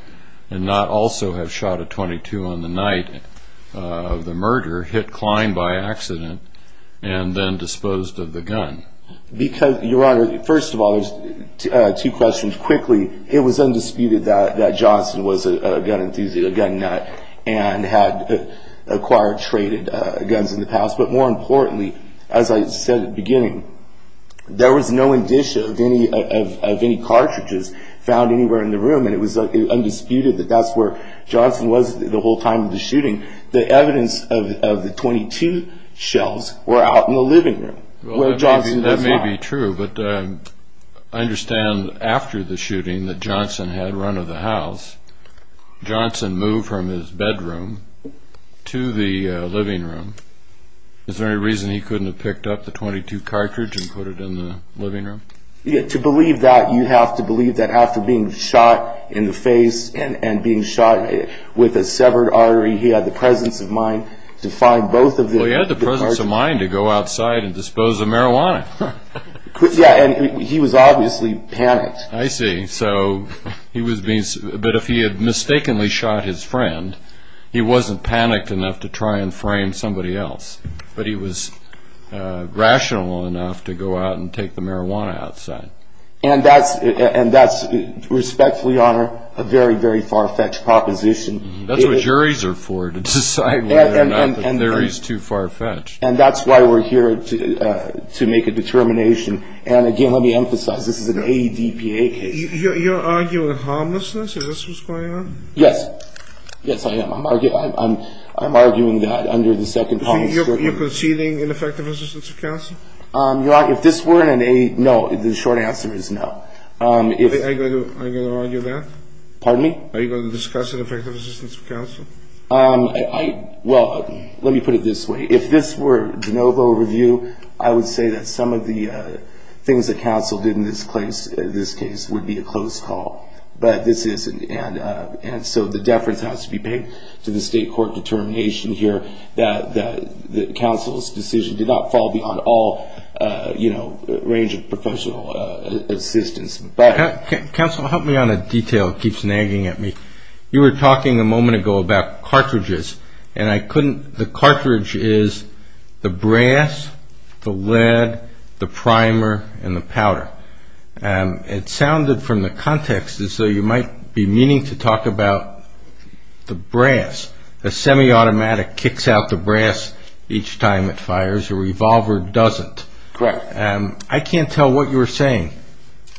and not also have shot a .22 on the night of the murder, hit Klein by accident, and then disposed of the gun? Because, Your Honor, first of all, there's two questions. First, quickly, it was undisputed that Johnson was a gun enthusiast, a gun nut, and had acquired, traded guns in the past, but more importantly, as I said at the beginning, there was no indicia of any cartridges found anywhere in the room, and it was undisputed that that's where Johnson was the whole time of the shooting. The evidence of the .22 shells were out in the living room, where Johnson was lying. That's not entirely true, but I understand after the shooting that Johnson had run of the house. Johnson moved from his bedroom to the living room. Is there any reason he couldn't have picked up the .22 cartridge and put it in the living room? To believe that, you have to believe that after being shot in the face and being shot with a severed artery, he had the presence of mind to find both of the cartridges. Well, he had the presence of mind to go outside and dispose of marijuana. Yeah, and he was obviously panicked. I see. But if he had mistakenly shot his friend, he wasn't panicked enough to try and frame somebody else, but he was rational enough to go out and take the marijuana outside. And that's, respectfully, Your Honor, a very, very far-fetched proposition. That's what juries are for, to decide whether or not the theory is too far-fetched. And that's why we're here, to make a determination. And, again, let me emphasize, this is an AEDPA case. You're arguing harmlessness? Is this what's going on? Yes. Yes, I am. I'm arguing that under the second policy. You're conceding ineffective assistance of counsel? Your Honor, if this weren't an AEDPA, no. The short answer is no. Are you going to argue that? Pardon me? Are you going to discuss ineffective assistance of counsel? Well, let me put it this way. If this were a de novo review, I would say that some of the things that counsel did in this case would be a close call. But this isn't. And so the deference has to be paid to the state court determination here that counsel's decision did not fall beyond all range of professional assistance. Counsel, help me on a detail that keeps nagging at me. You were talking a moment ago about cartridges. And I couldn't – the cartridge is the brass, the lead, the primer, and the powder. It sounded from the context as though you might be meaning to talk about the brass. The semi-automatic kicks out the brass each time it fires. The revolver doesn't. Correct. I can't tell what you were saying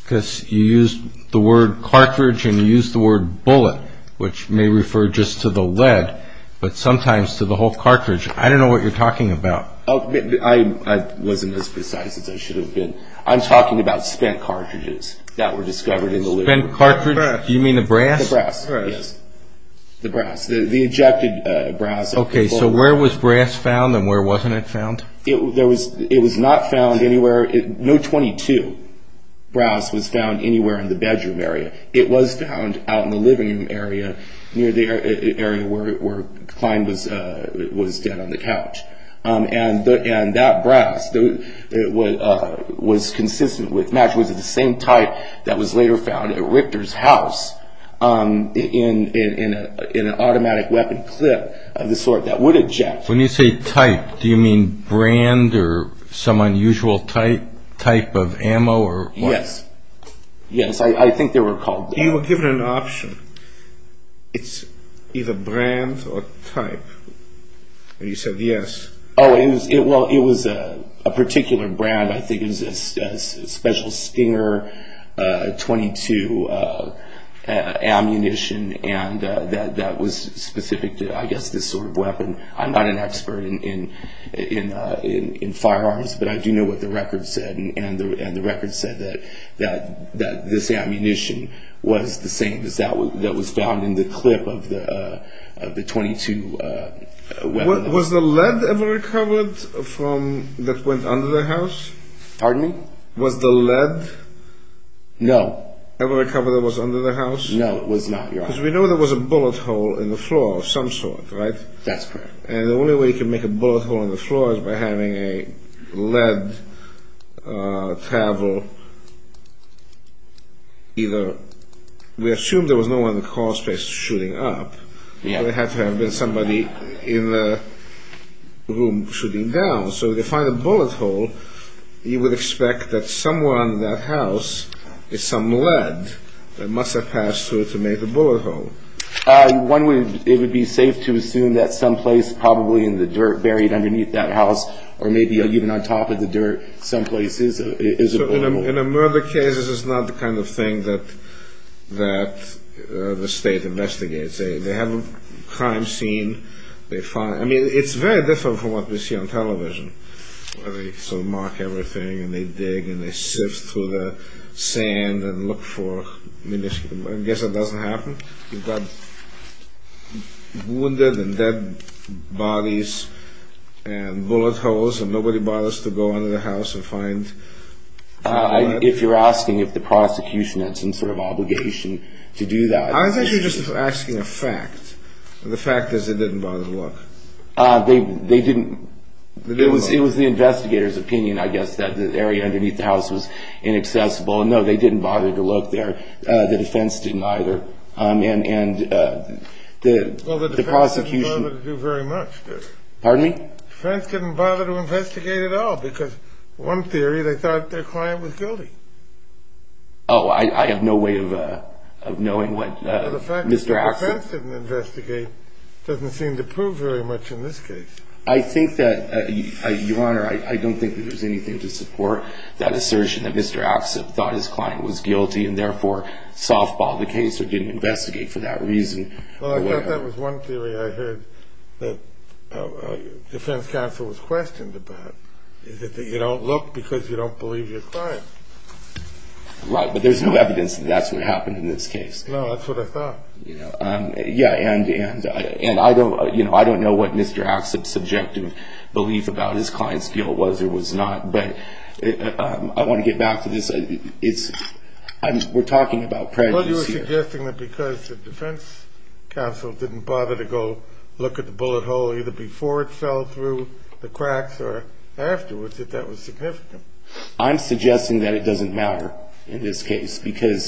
because you used the word cartridge and you used the word bullet, which may refer just to the lead, but sometimes to the whole cartridge. I don't know what you're talking about. I wasn't as precise as I should have been. I'm talking about spent cartridges that were discovered in the loot. Spent cartridge? Correct. Do you mean the brass? The brass, yes. The brass, the ejected brass. Okay, so where was brass found and where wasn't it found? It was not found anywhere. No .22 brass was found anywhere in the bedroom area. It was found out in the living room area near the area where Klein was dead on the couch. And that brass was consistent with match. It was the same type that was later found at Richter's house in an automatic weapon clip of the sort that would eject. When you say type, do you mean brand or some unusual type of ammo? Yes. Yes, I think they were called that. You were given an option. It's either brand or type, and you said yes. Oh, well, it was a particular brand. I think it was a special Stinger .22 ammunition, and that was specific to, I guess, this sort of weapon. I'm not an expert in firearms, but I do know what the record said, and the record said that this ammunition was the same as that that was found in the clip of the .22 weapon. Was the lead ever recovered that went under the house? Pardon me? Was the lead ever recovered that was under the house? No, it was not, Your Honor. Because we know there was a bullet hole in the floor of some sort, right? That's correct. And the only way you can make a bullet hole in the floor is by having a lead travel either... We assume there was no one in the call space shooting up, but there had to have been somebody in the room shooting down. So to find a bullet hole, you would expect that somewhere under that house is some lead that must have passed through to make the bullet hole. It would be safe to assume that someplace probably in the dirt buried underneath that house or maybe even on top of the dirt someplace is a bullet hole. In a murder case, this is not the kind of thing that the state investigates. They have a crime scene. I mean, it's very different from what we see on television, where they mark everything and they dig and they sift through the sand and look for ammunition. I guess that doesn't happen. You've got wounded and dead bodies and bullet holes and nobody bothers to go under the house and find a bullet. If you're asking if the prosecution had some sort of obligation to do that... I was actually just asking a fact, and the fact is they didn't bother to look. They didn't... It was the investigator's opinion, I guess, that the area underneath the house was inaccessible. No, they didn't bother to look there. The defense didn't either, and the prosecution... Well, the defense didn't bother to do very much there. Pardon me? The defense didn't bother to investigate at all because one theory, they thought their client was guilty. Oh, I have no way of knowing what Mr. Axsop... Well, the fact that the defense didn't investigate doesn't seem to prove very much in this case. I think that... Your Honor, I don't think that there's anything to support that assertion that Mr. Axsop thought his client was guilty and therefore softballed the case or didn't investigate for that reason. Well, I guess that was one theory I heard that the defense counsel was questioned about, is that you don't look because you don't believe your client. Right, but there's no evidence that that's what happened in this case. No, that's what I thought. Yeah, and I don't know what Mr. Axsop's subjective belief about his client's guilt was or was not, but I want to get back to this. We're talking about prejudice here. Well, you were suggesting that because the defense counsel didn't bother to go look at the bullet hole either before it fell through the cracks or afterwards, that that was significant. I'm suggesting that it doesn't matter in this case because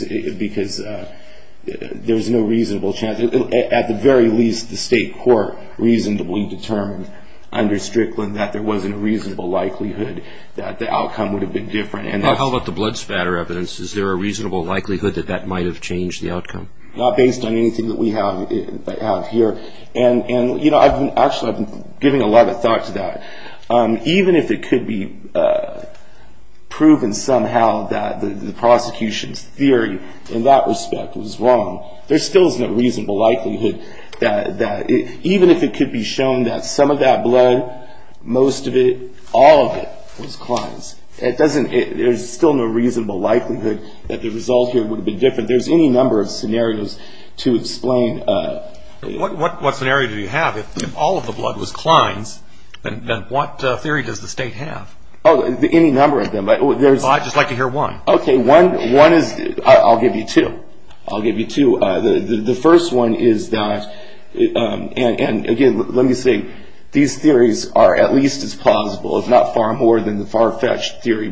there's no reasonable chance... At the very least, the state court reasonably determined under Strickland that there wasn't a reasonable likelihood that the outcome would have been different. How about the blood spatter evidence? Is there a reasonable likelihood that that might have changed the outcome? Not based on anything that we have here. And, you know, actually I've been giving a lot of thought to that. Even if it could be proven somehow that the prosecution's theory in that respect was wrong, there still is no reasonable likelihood that... Even if it could be shown that some of that blood, most of it, all of it was Klein's, it doesn't... there's still no reasonable likelihood that the result here would have been different. There's any number of scenarios to explain... What scenario do you have? If all of the blood was Klein's, then what theory does the state have? Oh, any number of them. I'd just like to hear one. Okay, one is... I'll give you two. I'll give you two. The first one is that... and, again, let me say these theories are at least as plausible, if not far more than the far-fetched theory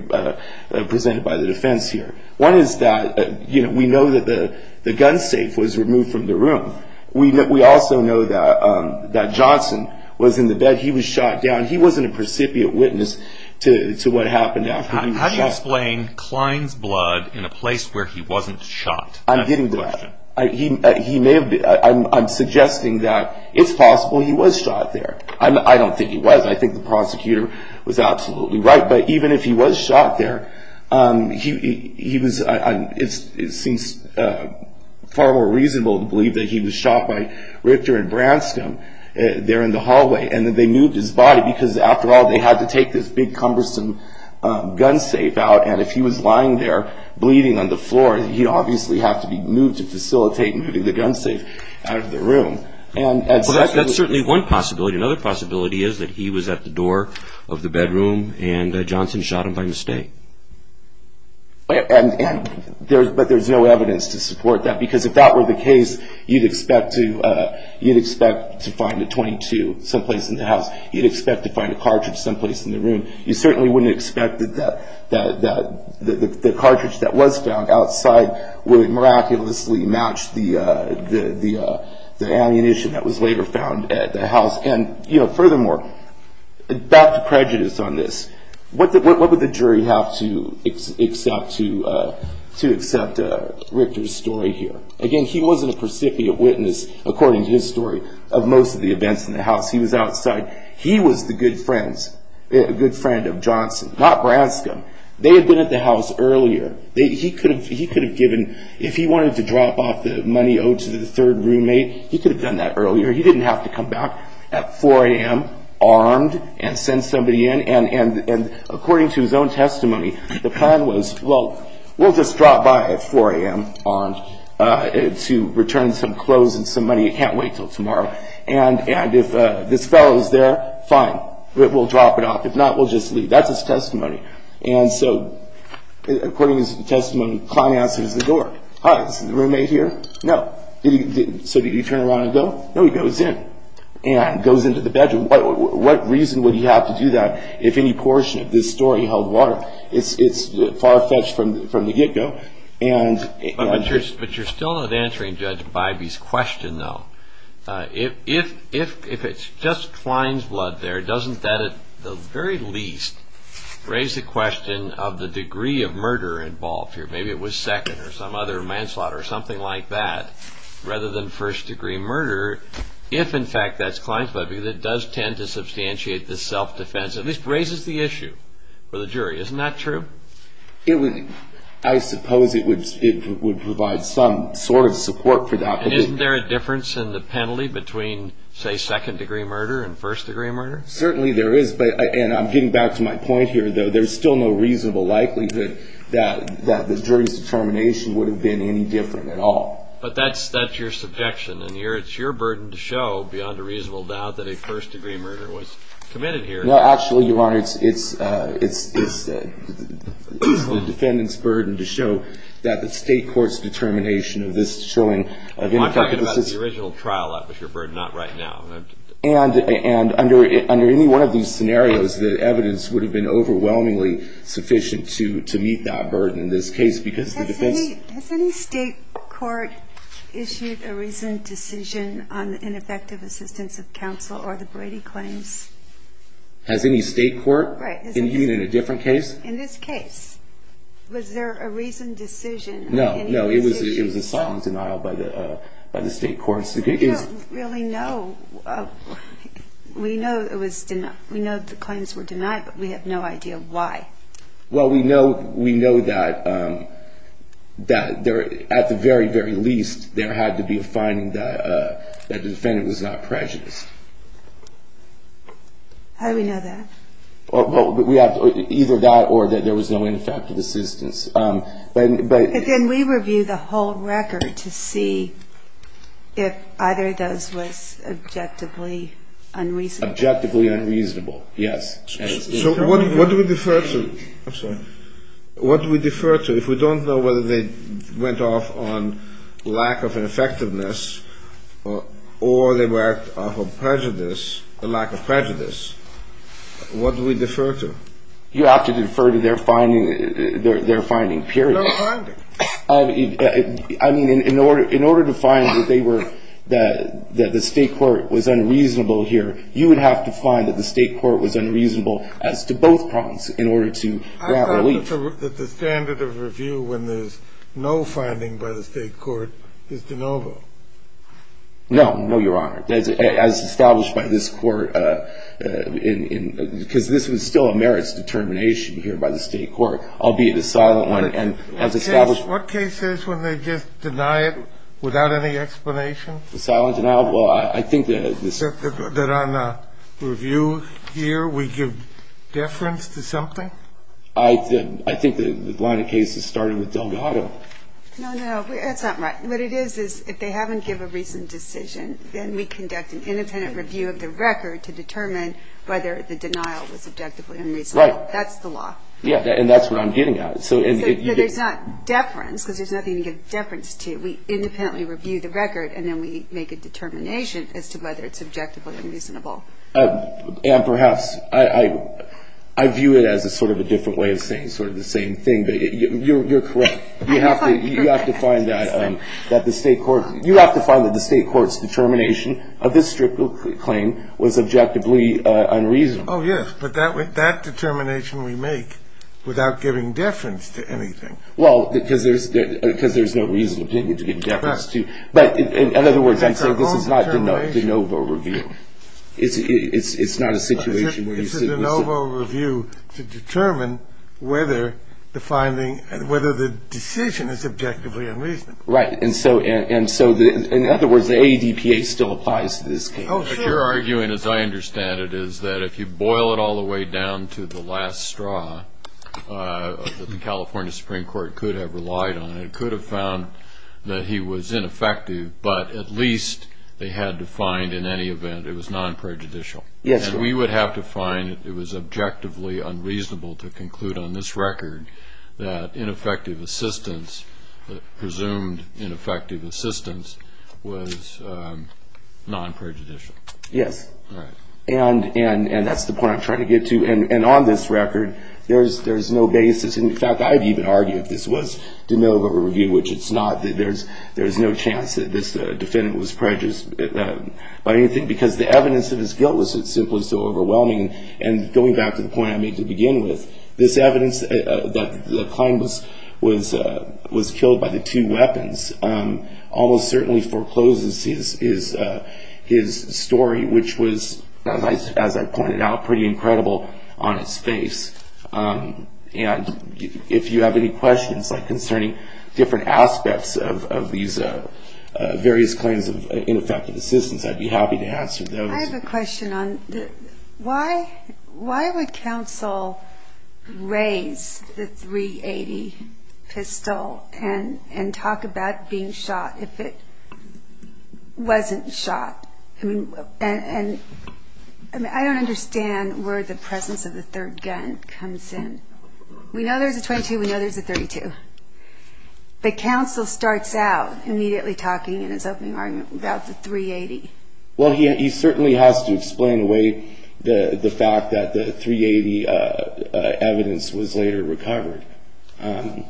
presented by the defense here. One is that we know that the gun safe was removed from the room. We also know that Johnson was in the bed. He was shot down. He wasn't a precipient witness to what happened after he was shot. How do you explain Klein's blood in a place where he wasn't shot? I'm getting to that. He may have... I'm suggesting that it's possible he was shot there. I don't think he was. I think the prosecutor was absolutely right. But even if he was shot there, it seems far more reasonable to believe that he was shot by Richter and Branscombe there in the hallway and that they moved his body because, after all, they had to take this big cumbersome gun safe out. And if he was lying there bleeding on the floor, he'd obviously have to be moved to facilitate moving the gun safe out of the room. That's certainly one possibility. Another possibility is that he was at the door of the bedroom and Johnson shot him by mistake. But there's no evidence to support that because, if that were the case, you'd expect to find a .22 someplace in the house. You'd expect to find a cartridge someplace in the room. You certainly wouldn't expect that the cartridge that was found outside would miraculously match the ammunition that was later found at the house. And, you know, furthermore, back to prejudice on this, what would the jury have to accept to accept Richter's story here? Again, he wasn't a precipient witness, according to his story, of most of the events in the house. He was outside. He was the good friend of Johnson, not Branscombe. They had been at the house earlier. He could have given, if he wanted to drop off the money owed to the third roommate, he could have done that earlier. He didn't have to come back at 4 a.m., armed, and send somebody in. And according to his own testimony, the plan was, well, we'll just drop by at 4 a.m., armed, to return some clothes and some money. You can't wait until tomorrow. And if this fellow is there, fine, we'll drop it off. If not, we'll just leave. That's his testimony. And so, according to his testimony, Kline answers the door. Hi, is the roommate here? No. So did he turn around and go? No, he goes in and goes into the bedroom. What reason would he have to do that if any portion of this story held water? It's far-fetched from the get-go. But you're still not answering Judge Bybee's question, though. If it's just Kline's blood there, doesn't that, at the very least, raise the question of the degree of murder involved here? Maybe it was second or some other manslaughter or something like that, rather than first-degree murder. If, in fact, that's Kline's blood, because it does tend to substantiate the self-defense, at least raises the issue for the jury. Isn't that true? I suppose it would provide some sort of support for that. And isn't there a difference in the penalty between, say, second-degree murder and first-degree murder? Certainly there is. And I'm getting back to my point here, though. There's still no reasonable likelihood that the jury's determination would have been any different at all. But that's your subjection, and it's your burden to show, beyond a reasonable doubt, that a first-degree murder was committed here. No, actually, Your Honor, it's the defendant's burden to show that the state court's determination of this showing of any type of assistance. I'm talking about the original trial. That was your burden, not right now. And under any one of these scenarios, the evidence would have been overwhelmingly sufficient to meet that burden in this case, because the defense- Has any state court issued a reasoned decision on the ineffective assistance of counsel or the Brady claims? Has any state court? Right. Even in a different case? In this case. Was there a reasoned decision? No, no. It was a silent denial by the state court. We don't really know. We know the claims were denied, but we have no idea why. Well, we know that at the very, very least, there had to be a finding that the defendant was not prejudiced. How do we know that? Either that or that there was no ineffective assistance. But then we review the whole record to see if either of those was objectively unreasonable. Objectively unreasonable, yes. So what do we defer to? I'm sorry. What do we defer to? If we don't know whether they went off on lack of effectiveness or they were off of prejudice, a lack of prejudice, what do we defer to? You have to defer to their finding, period. No finding. I mean, in order to find that they were, that the state court was unreasonable here, you would have to find that the state court was unreasonable as to both prongs in order to grant relief. I thought that the standard of review when there's no finding by the state court is de novo. No, no, Your Honor. As established by this court, because this was still a merits determination here by the state court, albeit a silent one, and as established. What case is when they just deny it without any explanation? A silent denial? Well, I think that this. That on review here, we give deference to something? I think the line of case is starting with Delgado. No, no, that's not right. What it is, is if they haven't given a reasoned decision, then we conduct an independent review of the record to determine whether the denial was objectively unreasonable. Right. That's the law. Yeah, and that's what I'm getting at. So there's not deference, because there's nothing to give deference to. We independently review the record, and then we make a determination as to whether it's objectively unreasonable. And perhaps I view it as a sort of a different way of saying sort of the same thing, but you're correct. You have to find that the state court's determination of this strict claim was objectively unreasonable. Oh, yes, but that determination we make without giving deference to anything. Well, because there's no reason to give deference to. But in other words, I'm saying this is not de novo review. It's not a situation where you sit with someone. It's a de novo review to determine whether the decision is objectively unreasonable. Right. And so, in other words, the ADPA still applies to this case. Oh, sure. But you're arguing, as I understand it, is that if you boil it all the way down to the last straw, that the California Supreme Court could have relied on it, and could have found that he was ineffective, but at least they had to find in any event it was non-prejudicial. Yes. And we would have to find that it was objectively unreasonable to conclude on this record that ineffective assistance, presumed ineffective assistance, was non-prejudicial. Yes. Right. And that's the point I'm trying to get to. And on this record, there's no basis. In fact, I'd even argue if this was de novo review, which it's not, that there's no chance that this defendant was prejudiced by anything, because the evidence of his guilt was simply so overwhelming. And going back to the point I made to begin with, this evidence that Klein was killed by the two weapons almost certainly forecloses his story, which was, as I pointed out, pretty incredible on its face. And if you have any questions concerning different aspects of these various claims of ineffective assistance, I'd be happy to answer those. I have a question on why would counsel raise the .380 pistol and talk about being shot if it wasn't shot? And I don't understand where the presence of the third gun comes in. We know there's a .22. We know there's a .32. But counsel starts out immediately talking in his opening argument about the .380. Well, he certainly has to explain away the fact that the .380 evidence was later recovered. And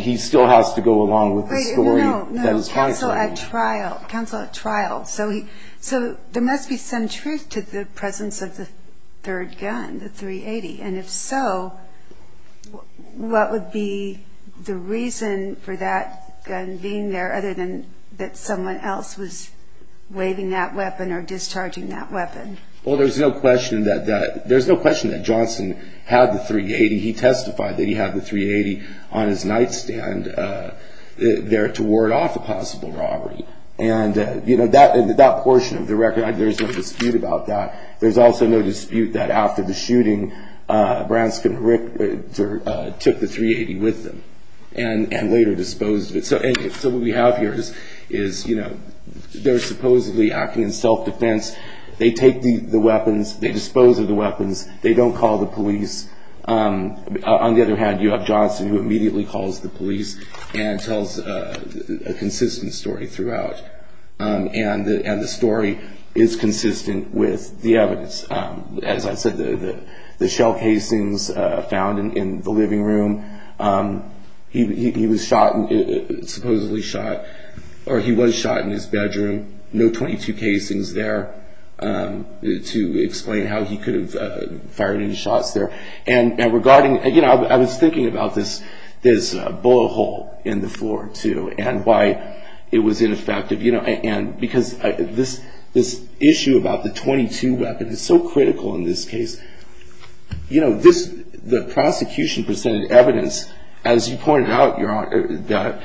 he still has to go along with the story that his counsel had. Wait, no, no. Counsel at trial. Counsel at trial. So there must be some truth to the presence of the third gun, the .380. And if so, what would be the reason for that gun being there other than that someone else was waving that weapon or discharging that weapon? Well, there's no question that Johnson had the .380. He testified that he had the .380 on his nightstand there to ward off a possible robbery. And, you know, that portion of the record, there's no dispute about that. There's also no dispute that after the shooting, Branscombe took the .380 with them and later disposed of it. So what we have here is, you know, they're supposedly acting in self-defense. They take the weapons. They dispose of the weapons. They don't call the police. On the other hand, you have Johnson, who immediately calls the police and tells a consistent story throughout. And the story is consistent with the evidence. As I said, the shell casings found in the living room, he was shot, supposedly shot, or he was shot in his bedroom. No .22 casings there to explain how he could have fired any shots there. And regarding, you know, I was thinking about this bullet hole in the floor, too, and why it was ineffective. And because this issue about the .22 weapon is so critical in this case. You know, the prosecution presented evidence, as you pointed out, Your Honor, that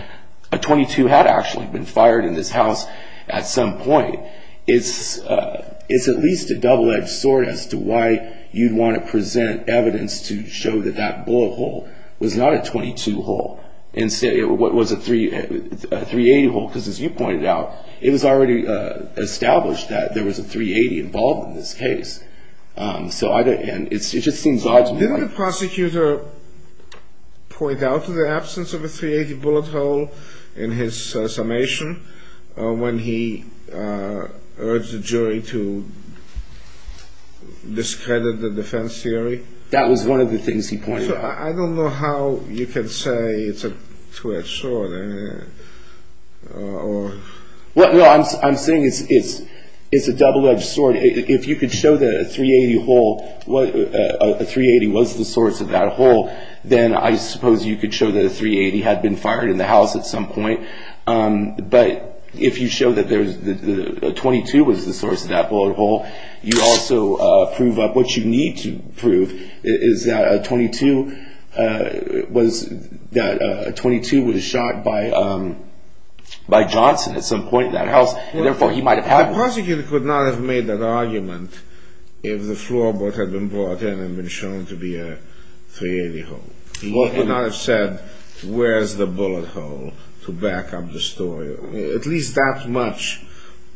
a .22 had actually been fired in this house at some point. It's at least a double-edged sword as to why you'd want to present evidence to show that that bullet hole was not a .22 hole. Instead, it was a .380 hole, because as you pointed out, it was already established that there was a .380 involved in this case. So it just seems odd to me. Did the prosecutor point out to the absence of a .380 bullet hole in his summation when he urged the jury to discredit the defense theory? That was one of the things he pointed out. So I don't know how you can say it's a two-edged sword. Well, no, I'm saying it's a double-edged sword. If you could show that a .380 was the source of that hole, then I suppose you could show that a .380 had been fired in the house at some point. But if you show that a .22 was the source of that bullet hole, you also prove up what you need to prove, which is that a .22 was shot by Johnson at some point in that house, and therefore he might have had one. The prosecutor could not have made that argument if the floorboard had been brought in and been shown to be a .380 hole. He could not have said, where's the bullet hole to back up the story. At least that much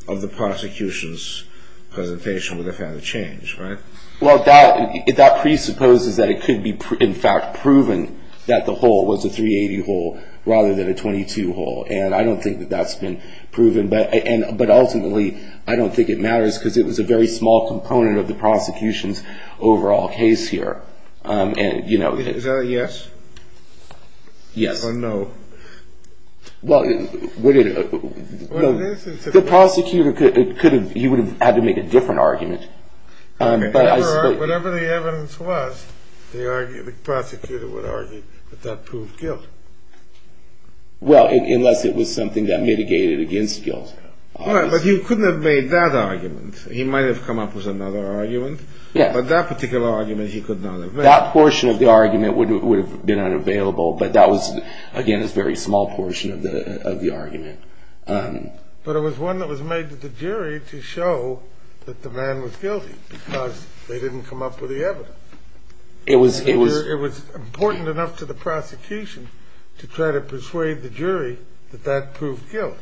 of the prosecution's presentation would have had to change, right? Well, that presupposes that it could be, in fact, proven that the hole was a .380 hole rather than a .22 hole. And I don't think that that's been proven. But ultimately, I don't think it matters because it was a very small component of the prosecution's overall case here. Is that a yes? Yes. Or no? Well, the prosecutor, he would have had to make a different argument. Whatever the evidence was, the prosecutor would argue that that proved guilt. Well, unless it was something that mitigated against guilt. Right, but he couldn't have made that argument. He might have come up with another argument, but that particular argument he could not have made. That portion of the argument would have been unavailable, but that was, again, a very small portion of the argument. But it was one that was made to the jury to show that the man was guilty because they didn't come up with the evidence. It was important enough to the prosecution to try to persuade the jury that that proved guilt.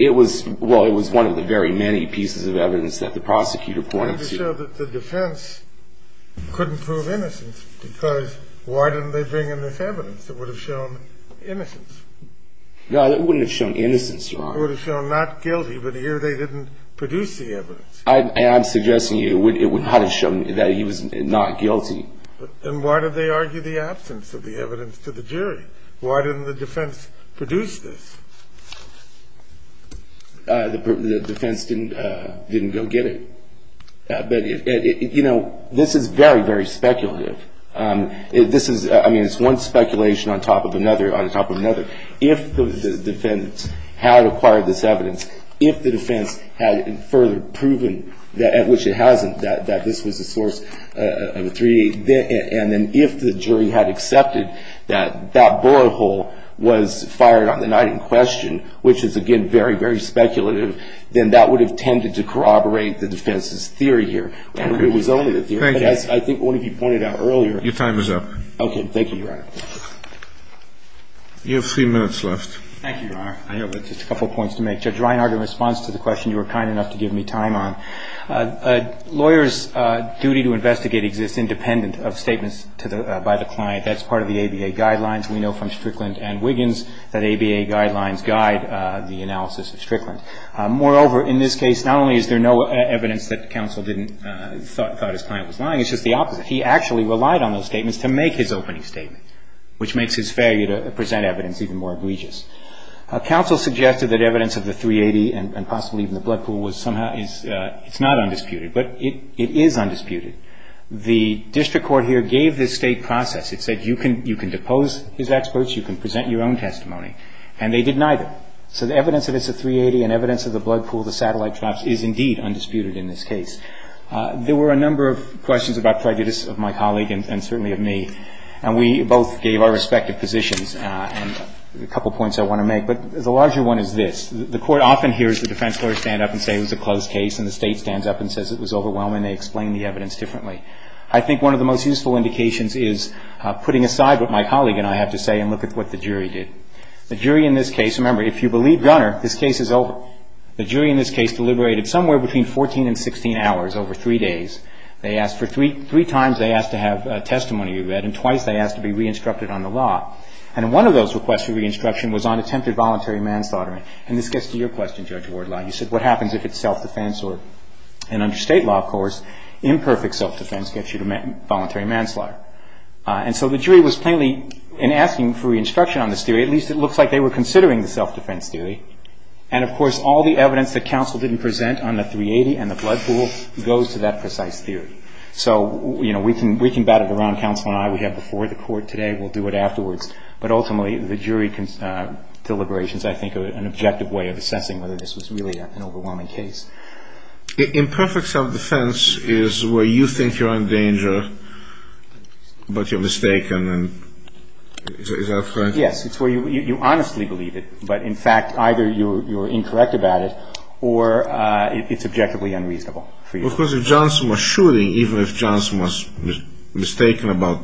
Well, it was one of the very many pieces of evidence that the prosecutor pointed to. It would have shown that the defense couldn't prove innocence because why didn't they bring in this evidence? It would have shown innocence. No, it wouldn't have shown innocence, Your Honor. It would have shown not guilty, but here they didn't produce the evidence. I'm suggesting it would have shown that he was not guilty. Then why did they argue the absence of the evidence to the jury? Why didn't the defense produce this? The defense didn't go get it. But, you know, this is very, very speculative. This is, I mean, it's one speculation on top of another on top of another. If the defense had acquired this evidence, if the defense had further proven, at which it hasn't, that this was a source of a 3-D, and then if the jury had accepted that that bullet hole was fired on the night in question, which is, again, very, very speculative, then that would have tended to corroborate the defense's theory here. It was only the theory. But as I think one of you pointed out earlier. Your time is up. Okay, thank you, Your Honor. You have three minutes left. Thank you, Your Honor. I have just a couple points to make. Judge Reinhardt, in response to the question you were kind enough to give me time on, a lawyer's duty to investigate exists independent of statements by the client. That's part of the ABA guidelines. We know from Strickland and Wiggins that ABA guidelines guide the analysis of Strickland. Moreover, in this case, not only is there no evidence that counsel thought his client was lying, it's just the opposite. He actually relied on those statements to make his opening statement, which makes his failure to present evidence even more egregious. Counsel suggested that evidence of the .380 and possibly even the blood pool was somehow, it's not undisputed. But it is undisputed. The district court here gave this state process. It said you can depose his experts, you can present your own testimony. And they did neither. So the evidence that it's a .380 and evidence of the blood pool, the satellite traps, is indeed undisputed in this case. There were a number of questions about prejudice of my colleague and certainly of me. And we both gave our respective positions and a couple of points I want to make. But the larger one is this. The court often hears the defense lawyer stand up and say it was a closed case and the state stands up and says it was overwhelming. They explain the evidence differently. I think one of the most useful indications is putting aside what my colleague and I have to say and look at what the jury did. The jury in this case, remember, if you believe Gunner, this case is over. The jury in this case deliberated somewhere between 14 and 16 hours over three days. They asked for three times they asked to have testimony read and twice they asked to be re-instructed on the law. And one of those requests for re-instruction was on attempted voluntary manslaughter. And this gets to your question, Judge Wardlaw. You said what happens if it's self-defense or, and under state law, of course, imperfect self-defense gets you to voluntary manslaughter. And so the jury was plainly, in asking for re-instruction on this theory, at least it looks like they were considering the self-defense theory. And, of course, all the evidence that counsel didn't present on the 380 and the blood pool goes to that precise theory. So, you know, we can bat it around. Counsel and I, we have before the court today. We'll do it afterwards. But ultimately, the jury deliberations, I think, are an objective way of assessing whether this was really an overwhelming case. Imperfect self-defense is where you think you're in danger, but you're mistaken. Is that correct? It's where you honestly believe it. But, in fact, either you're incorrect about it or it's objectively unreasonable. Of course, if Johnson was shooting, even if Johnson was mistaken about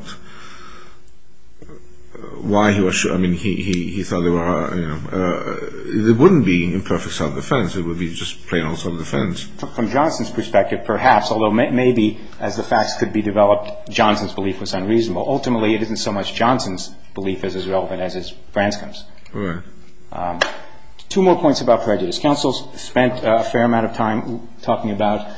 why he was shooting, I mean, he thought there were, you know, it wouldn't be imperfect self-defense. It would be just plain old self-defense. From Johnson's perspective, perhaps, although maybe, as the facts could be developed, Johnson's belief was unreasonable. Ultimately, it isn't so much Johnson's belief as is relevant as is Branscom's. All right. Two more points about prejudice. Counsel spent a fair amount of time talking about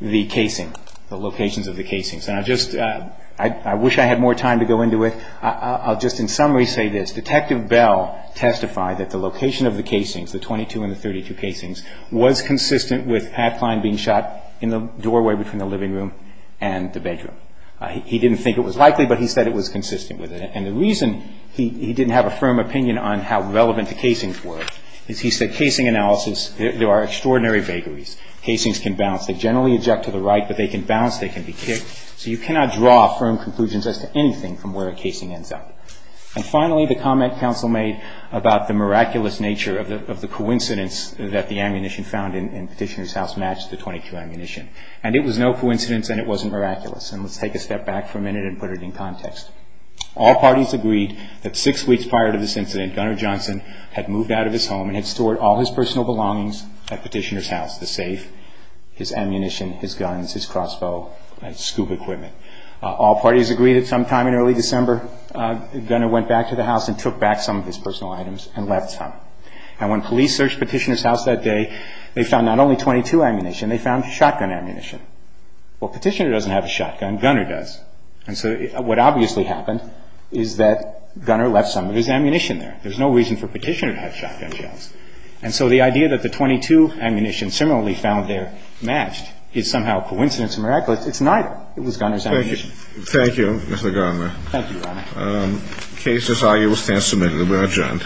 the casing, the locations of the casings. And I just – I wish I had more time to go into it. I'll just in summary say this. Detective Bell testified that the location of the casings, the 22 and the 32 casings, was consistent with Pat Kline being shot in the doorway between the living room and the bedroom. He didn't think it was likely, but he said it was consistent with it. And the reason he didn't have a firm opinion on how relevant the casings were is he said casing analysis, there are extraordinary vagaries. Casings can bounce. They generally eject to the right, but they can bounce. They can be kicked. So you cannot draw firm conclusions as to anything from where a casing ends up. And finally, the comment counsel made about the miraculous nature of the coincidence that the ammunition found in Petitioner's house matched the 22 ammunition. And it was no coincidence and it wasn't miraculous. And let's take a step back for a minute and put it in context. All parties agreed that six weeks prior to this incident, Gunner Johnson had moved out of his home and had stored all his personal belongings at Petitioner's house, the safe, his ammunition, his guns, his crossbow, and his scoop equipment. All parties agreed that sometime in early December, Gunner went back to the house and took back some of his personal items and left some. And when police searched Petitioner's house that day, they found not only 22 ammunition, they found shotgun ammunition. Well, Petitioner doesn't have a shotgun. Gunner does. And so what obviously happened is that Gunner left some of his ammunition there. There's no reason for Petitioner to have shotgun shells. And so the idea that the 22 ammunition similarly found there matched is somehow a coincidence and miraculous. It's neither. It was Gunner's ammunition. Thank you. Thank you, Mr. Garnley. Thank you, Your Honor. Case as argued will stand submitted. We are adjourned.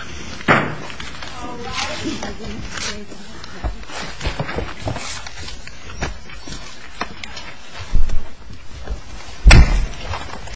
Thank you.